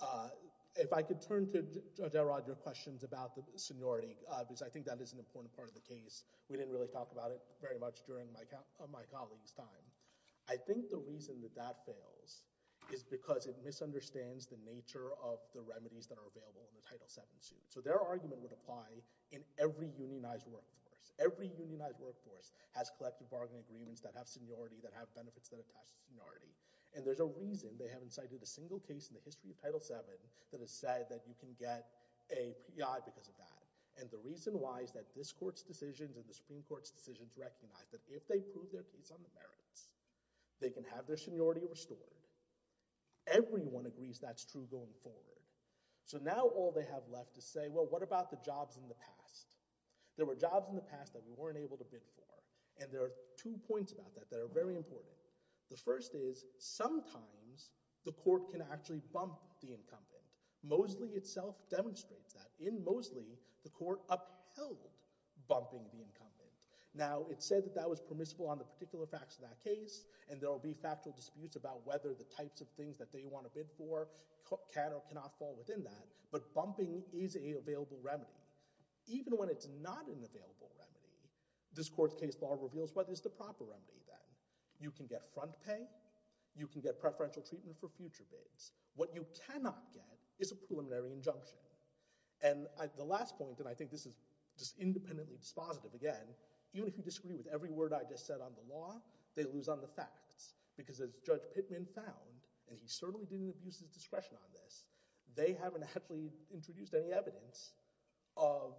uh if i could turn to judge roger questions about the seniority uh because i think that is an important part of the case we didn't really talk about it very much during my count of my colleagues time i think the reason that that fails is because it misunderstands the nature of the remedies that are available in the title 7 suit so their argument would apply in every unionized workforce every unionized workforce has collective bargaining agreements that have seniority that have benefits that attach to seniority and there's a reason they haven't cited a single case in the history of title 7 that has said that you can get a p.i because of that and the reason why is that this court's decisions and the supreme court's decisions recognize that if they prove their story everyone agrees that's true going forward so now all they have left to say well what about the jobs in the past there were jobs in the past that we weren't able to bid for and there are two points about that that are very important the first is sometimes the court can actually bump the incumbent mosley itself demonstrates that in mosley the court upheld bumping the incumbent now it said that that was permissible on the particular facts of that case and there will be factual disputes about whether the types of things that they want to bid for can or cannot fall within that but bumping is a available remedy even when it's not an available remedy this court's case bar reveals what is the proper remedy then you can get front pay you can get preferential treatment for future bids what you cannot get is a preliminary injunction and the last point and i think this is just independently dispositive again even if you because as judge pitman found and he certainly didn't abuse his discretion on this they haven't actually introduced any evidence of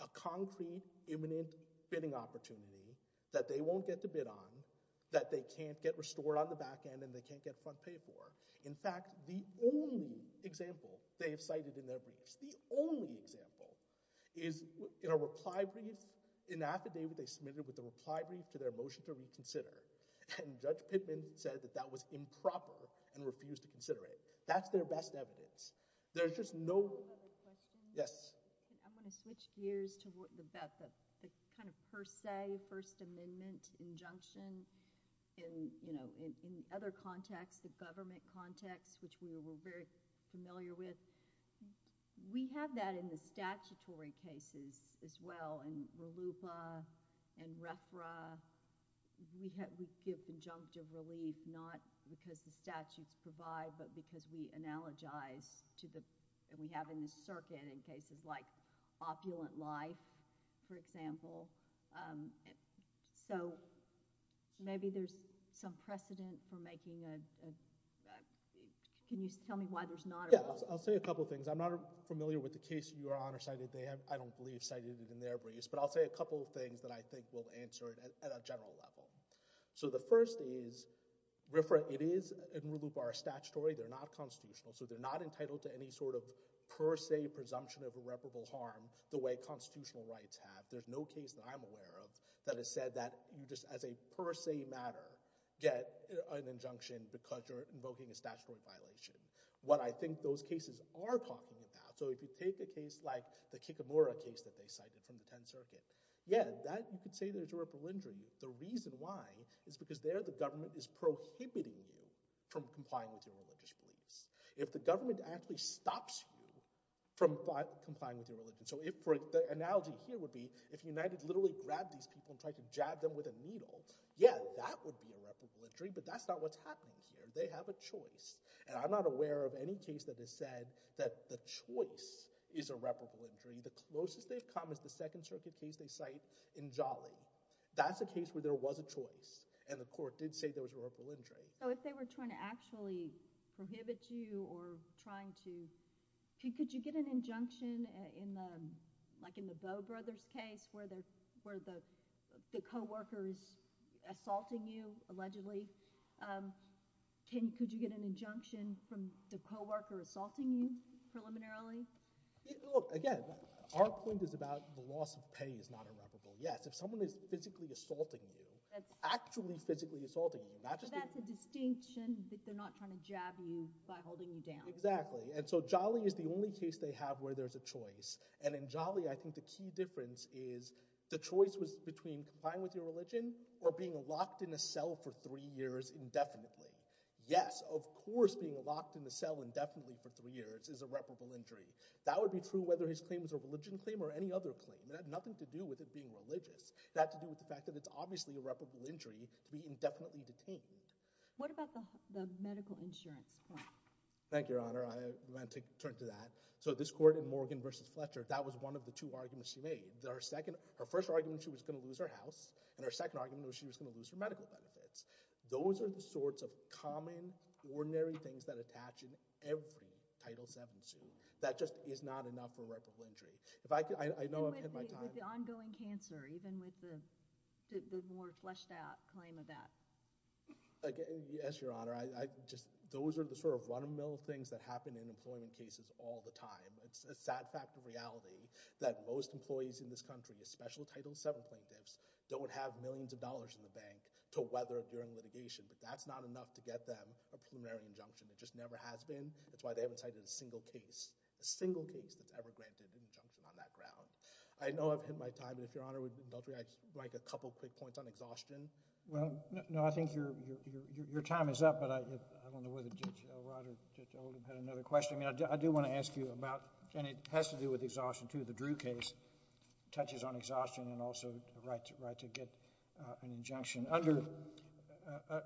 a concrete imminent bidding opportunity that they won't get to bid on that they can't get restored on the back end and they can't get front pay for in fact the only example they have cited in their briefs the only example is in a reply brief in affidavit they submitted with the reply brief to their motion to reconsider and judge pitman said that that was improper and refused to consider it that's their best evidence there's just no yes i'm going to switch gears to what about the kind of per se first amendment injunction in you know in other contexts the government context which we were very familiar with we have that in the statutory cases as well and ralupa and refra we have we give the juncture relief not because the statutes provide but because we analogize to the and we have in the circuit in cases like opulent life for example um so maybe there's some precedent for making a right can you tell me why there's not i'll say a couple things i'm not familiar with the case you are on or cited they have i don't believe cited it in their briefs but i'll say a couple of things that i think will answer it at a general level so the first is refer it is in ralupa are statutory they're not constitutional so they're not entitled to any sort of per se presumption of irreparable harm the way constitutional rights have there's no case that i'm aware of that has said that you just as a per se matter get an injunction because you're invoking a statutory violation what i think those cases are talking about so if you take the case like the kikamura case that they cited from the 10th circuit yeah that you could say there's a ripple injury the reason why is because there the government is prohibiting you from complying with your religious beliefs if the government actually stops you from complying with your religion so if for the analogy here if united literally grabbed these people and tried to jab them with a needle yeah that would be a reputable injury but that's not what's happening here they have a choice and i'm not aware of any case that has said that the choice is a reputable injury the closest they've come is the second circuit case they cite in jolly that's a case where there was a choice and the court did say there was a ripple injury so if they were trying to actually prohibit you or case where the where the the co-worker is assaulting you allegedly um can could you get an injunction from the co-worker assaulting you preliminarily look again our point is about the loss of pay is not irreparable yes if someone is physically assaulting you that's actually physically assaulting you that's a distinction that they're not trying to jab you by holding you down exactly and so jolly is the only case they have where there's a choice and in jolly i think the key difference is the choice was between complying with your religion or being locked in a cell for three years indefinitely yes of course being locked in the cell indefinitely for three years is a reputable injury that would be true whether his claim is a religion claim or any other claim it had nothing to do with it being religious that to do with the fact that it's obviously a reputable injury to be indefinitely detained what about the medical insurance plan thank your honor i want to turn to that so this court in morgan versus fletcher that was one of the two arguments she made that our second her first argument she was going to lose her house and our second argument was she was going to lose her medical benefits those are the sorts of common ordinary things that attach in every title seven suit that just is not enough for a reputable injury if i could i know i'm in my time with the ongoing cancer even with the the more fleshed out claim of that again yes your honor i just those are the sort of run-of-the-mill things that happen all the time it's a sad fact of reality that most employees in this country the special title several plaintiffs don't have millions of dollars in the bank to weather during litigation but that's not enough to get them a preliminary injunction it just never has been that's why they haven't cited a single case a single case that's ever granted an injunction on that ground i know i've hit my time and if your honor would like a couple quick points on exhaustion well no i think your your your time is up but i i don't know whether jill rodder had another question i mean i do i do want to ask you about and it has to do with exhaustion to the drew case touches on exhaustion and also the right right to get an injunction under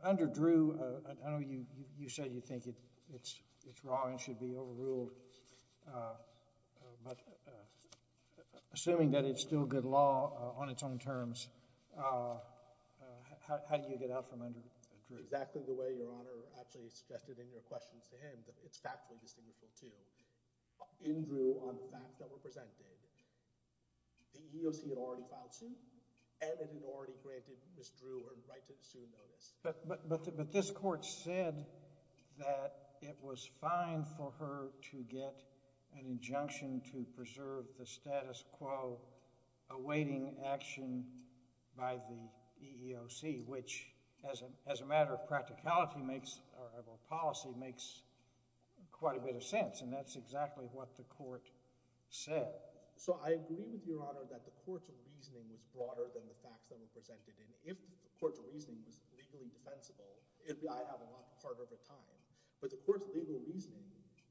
under drew i know you you said you think it it's it's wrong and should be overruled uh but assuming that it's still good law on its own terms uh how do you get out from under exactly the way your honor actually suggested in your questions to him that it's factually distinguishable too in drew on the fact that we're presenting the eoc had already filed suit and it had already granted miss drew her right to sue notice but but but this court said that it was fine for her to get an injunction to preserve the status quo awaiting action by the eoc which as a as a matter of practicality makes our policy makes quite a bit of sense and that's exactly what the court said so i agree with your honor that the court's reasoning is broader than the facts that we presented and if the court's reasoning is legally defensible it'll be i have a lot of part of the time but the court's legal reasoning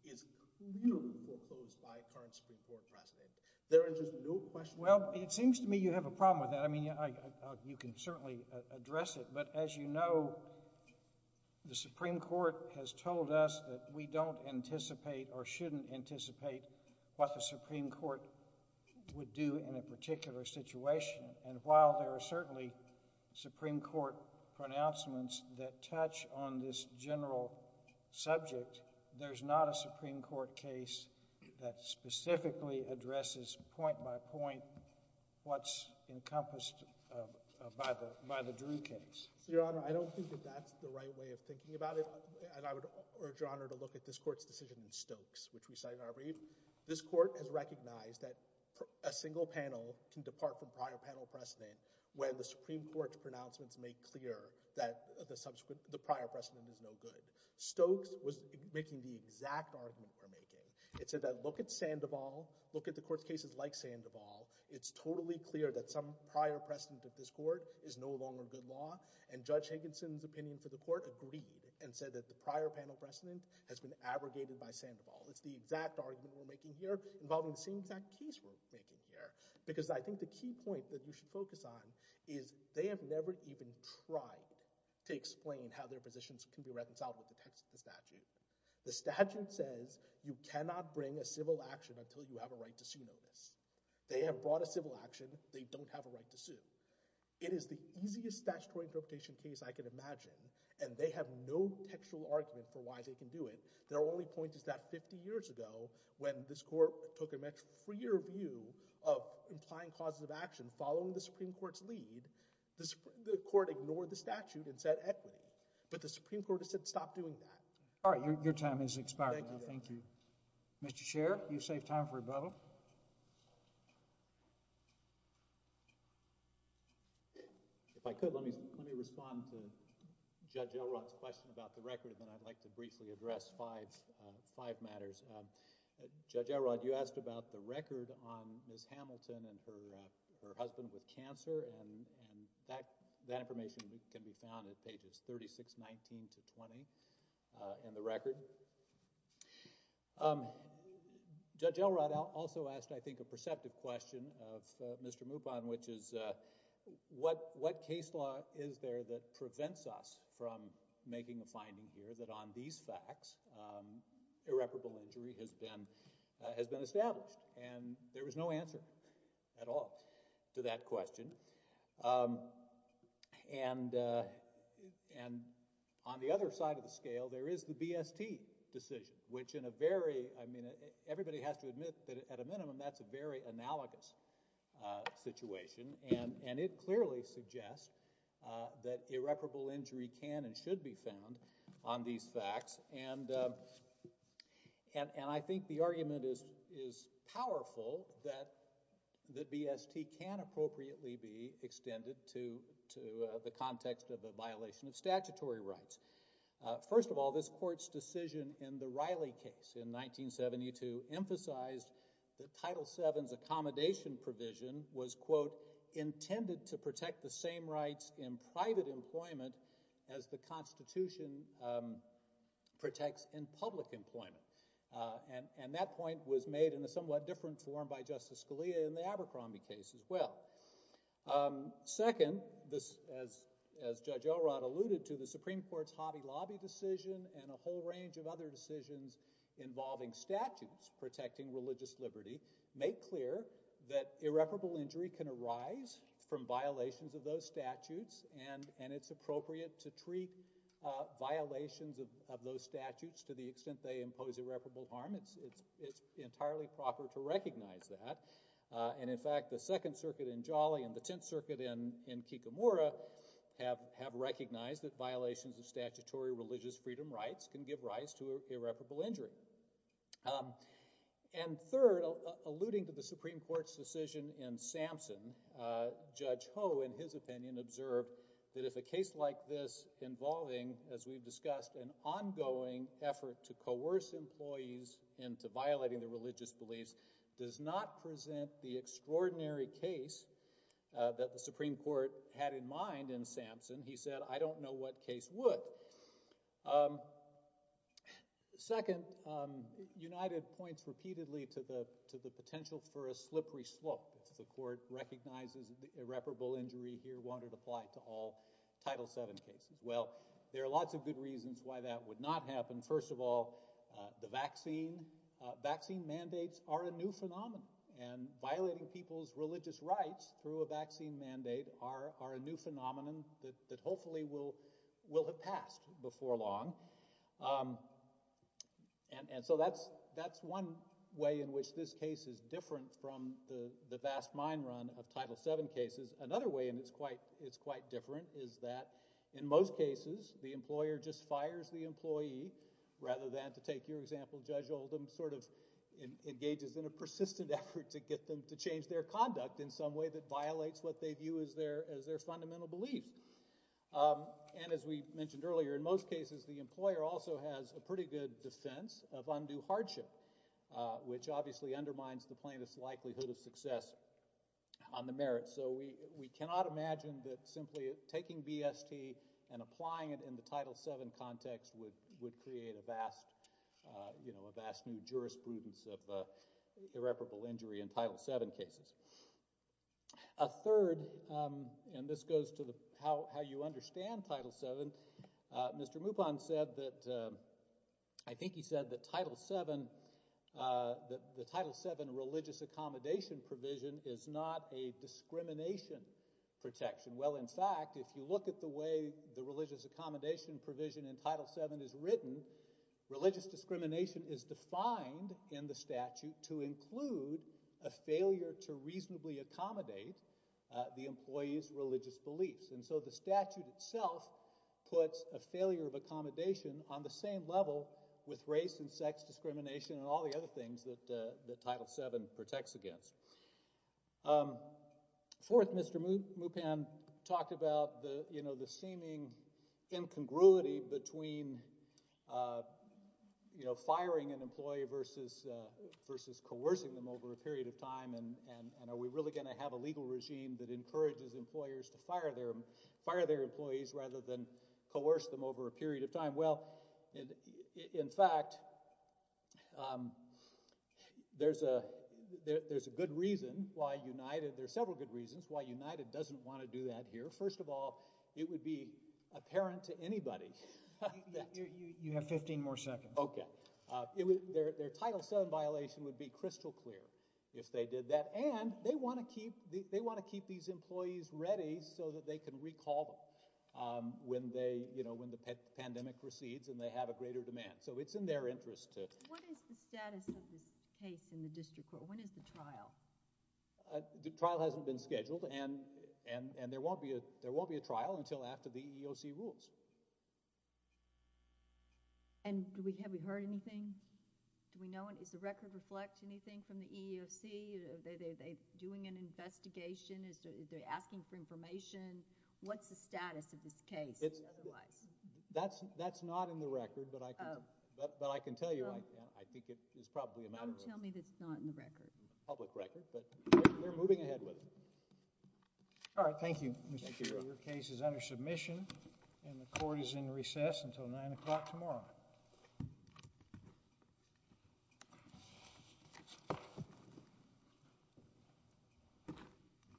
is clearly proposed by current supreme court president there are just no questions well it seems to me you have a problem with that i mean you can certainly address it but as you know the supreme court has told us that we don't anticipate or shouldn't anticipate what the supreme court would do in a particular situation and while there are certainly supreme court pronouncements that touch on this general subject there's not a supreme court case that specifically addresses point by point what's encompassed by the by the drew case your honor i don't think that that's the right way of thinking about it and i would urge your honor to look at this court's decision in stokes which we cited our brief this court has recognized that a single panel can depart from prior panel precedent when the supreme court's pronouncements make clear that the subsequent the prior precedent is no good stokes was making the exact argument we're making it said that look at sandoval look at the court's cases like sandoval it's totally clear that some prior precedent at this court is no longer good law and judge hankinson's opinion to the court agreed and said that the prior panel precedent has been abrogated by sandoval it's the exact argument we're making here involving the same exact case we're thinking here because i think the key point that we should focus on is they have never even tried to explain how their positions can be referenced out with the text of the statute the statute says you cannot bring a civil action until you have a right to sue notice they have brought a civil action they don't have a right to sue it is the easiest statutory interpretation case i can imagine and they have no textual argument for why they can do it their only point is that 50 years ago when this court took a much freer view of implying causes of action following the supreme court's lead the court ignored the statute and said equity but the supreme court has said stop doing that all right your time is expired thank you thank you mr chair you saved time for a bubble if i could let me let me respond to judge elrod's question about the record and then i'd like to briefly address five uh five matters uh judge elrod you asked about the record on miss hamilton and her uh her husband with cancer and and that that information can be found at pages 36 19 to 20 in the record um judge elrod also asked i think a perceptive question of mr mubon which is uh what what case law is there that prevents us from making a finding here that on these facts irreparable injury has been has been established and there was no answer at all to that question um and uh and on the other side of the scale there is the bst decision which in a very i mean everybody has to admit that at a minimum that's a very analogous uh situation and and it clearly suggests uh that irreparable injury can and should be found on these facts and um and and i think the argument is is powerful that the bst can appropriately be extended to to the context of a violation of statutory rights uh first of all this court's decision in the riley case in 1972 emphasized that title 7's accommodation provision was quote intended to in public employment uh and and that point was made in a somewhat different form by justice scalia in the abercrombie case as well um second this as as judge elrod alluded to the supreme court's hobby lobby decision and a whole range of other decisions involving statutes protecting religious liberty make clear that irreparable injury can arise from violations of those statutes and and it's appropriate to treat uh violations of of those statutes to the extent they impose irreparable harm it's it's it's entirely proper to recognize that uh and in fact the second circuit in jolly and the tenth circuit in in kikamora have have recognized that violations of statutory religious freedom rights can give rise to irreparable injury um and third alluding to supreme court's decision in samson uh judge ho in his opinion observed that if a case like this involving as we've discussed an ongoing effort to coerce employees into violating the religious beliefs does not present the extraordinary case that the supreme court had in mind in samson he said i don't know what case would um second um united points repeatedly to the to the potential for a slippery slope if the court recognizes the irreparable injury here won't it apply to all title 7 cases well there are lots of good reasons why that would not happen first of all the vaccine uh vaccine mandates are a new phenomenon and violating people's religious rights through a vaccine mandate are are a new phenomenon that that hopefully will will have from the the vast mine run of title 7 cases another way and it's quite it's quite different is that in most cases the employer just fires the employee rather than to take your example judge oldham sort of engages in a persistent effort to get them to change their conduct in some way that violates what they view as their as their fundamental belief um and as we mentioned earlier in most cases the employer also has a pretty good defense of undue hardship uh which obviously undermines the plainest likelihood of success on the merit so we we cannot imagine that simply taking bst and applying it in the title 7 context would would create a vast uh you know a vast new jurisprudence of uh irreparable injury in title 7 cases a third um and this goes to the how how you understand title 7 uh mr mupon said that i think he said that title 7 uh that the title 7 religious accommodation provision is not a discrimination protection well in fact if you look at the way the religious accommodation provision in title 7 is written religious discrimination is defined in the statute to include a failure to reasonably accommodate the employee's religious beliefs and so the statute itself puts a failure of accommodation on the same level with race and sex discrimination and all the other things that uh that title 7 protects against um fourth mr mupan talked about the you know the seeming incongruity between uh you know firing an employee versus uh versus coercing them over a period of time and and are really going to have a legal regime that encourages employers to fire their fire their employees rather than coerce them over a period of time well in fact um there's a there's a good reason why united there's several good reasons why united doesn't want to do that here first of all it would be apparent to anybody you have 15 more seconds okay uh it was their their title 7 violation would be crystal clear if they did that and they want to keep the they want to keep these employees ready so that they can recall them um when they you know when the pandemic recedes and they have a greater demand so it's in their interest to what is the status of this case in the district court when is the trial uh the trial hasn't been scheduled and and and there won't be a there won't be a trial until after the EEOC rules have you heard anything do we know what is the record reflect anything from the EEOC are they doing an investigation is they're asking for information what's the status of this case that's that's not in the record but i can but i can tell you right now i think it is probably a matter of tell me that's not in the record public record but we're moving ahead with it all right thank you your case is under submission and the court is in recess until nine o'clock tomorrow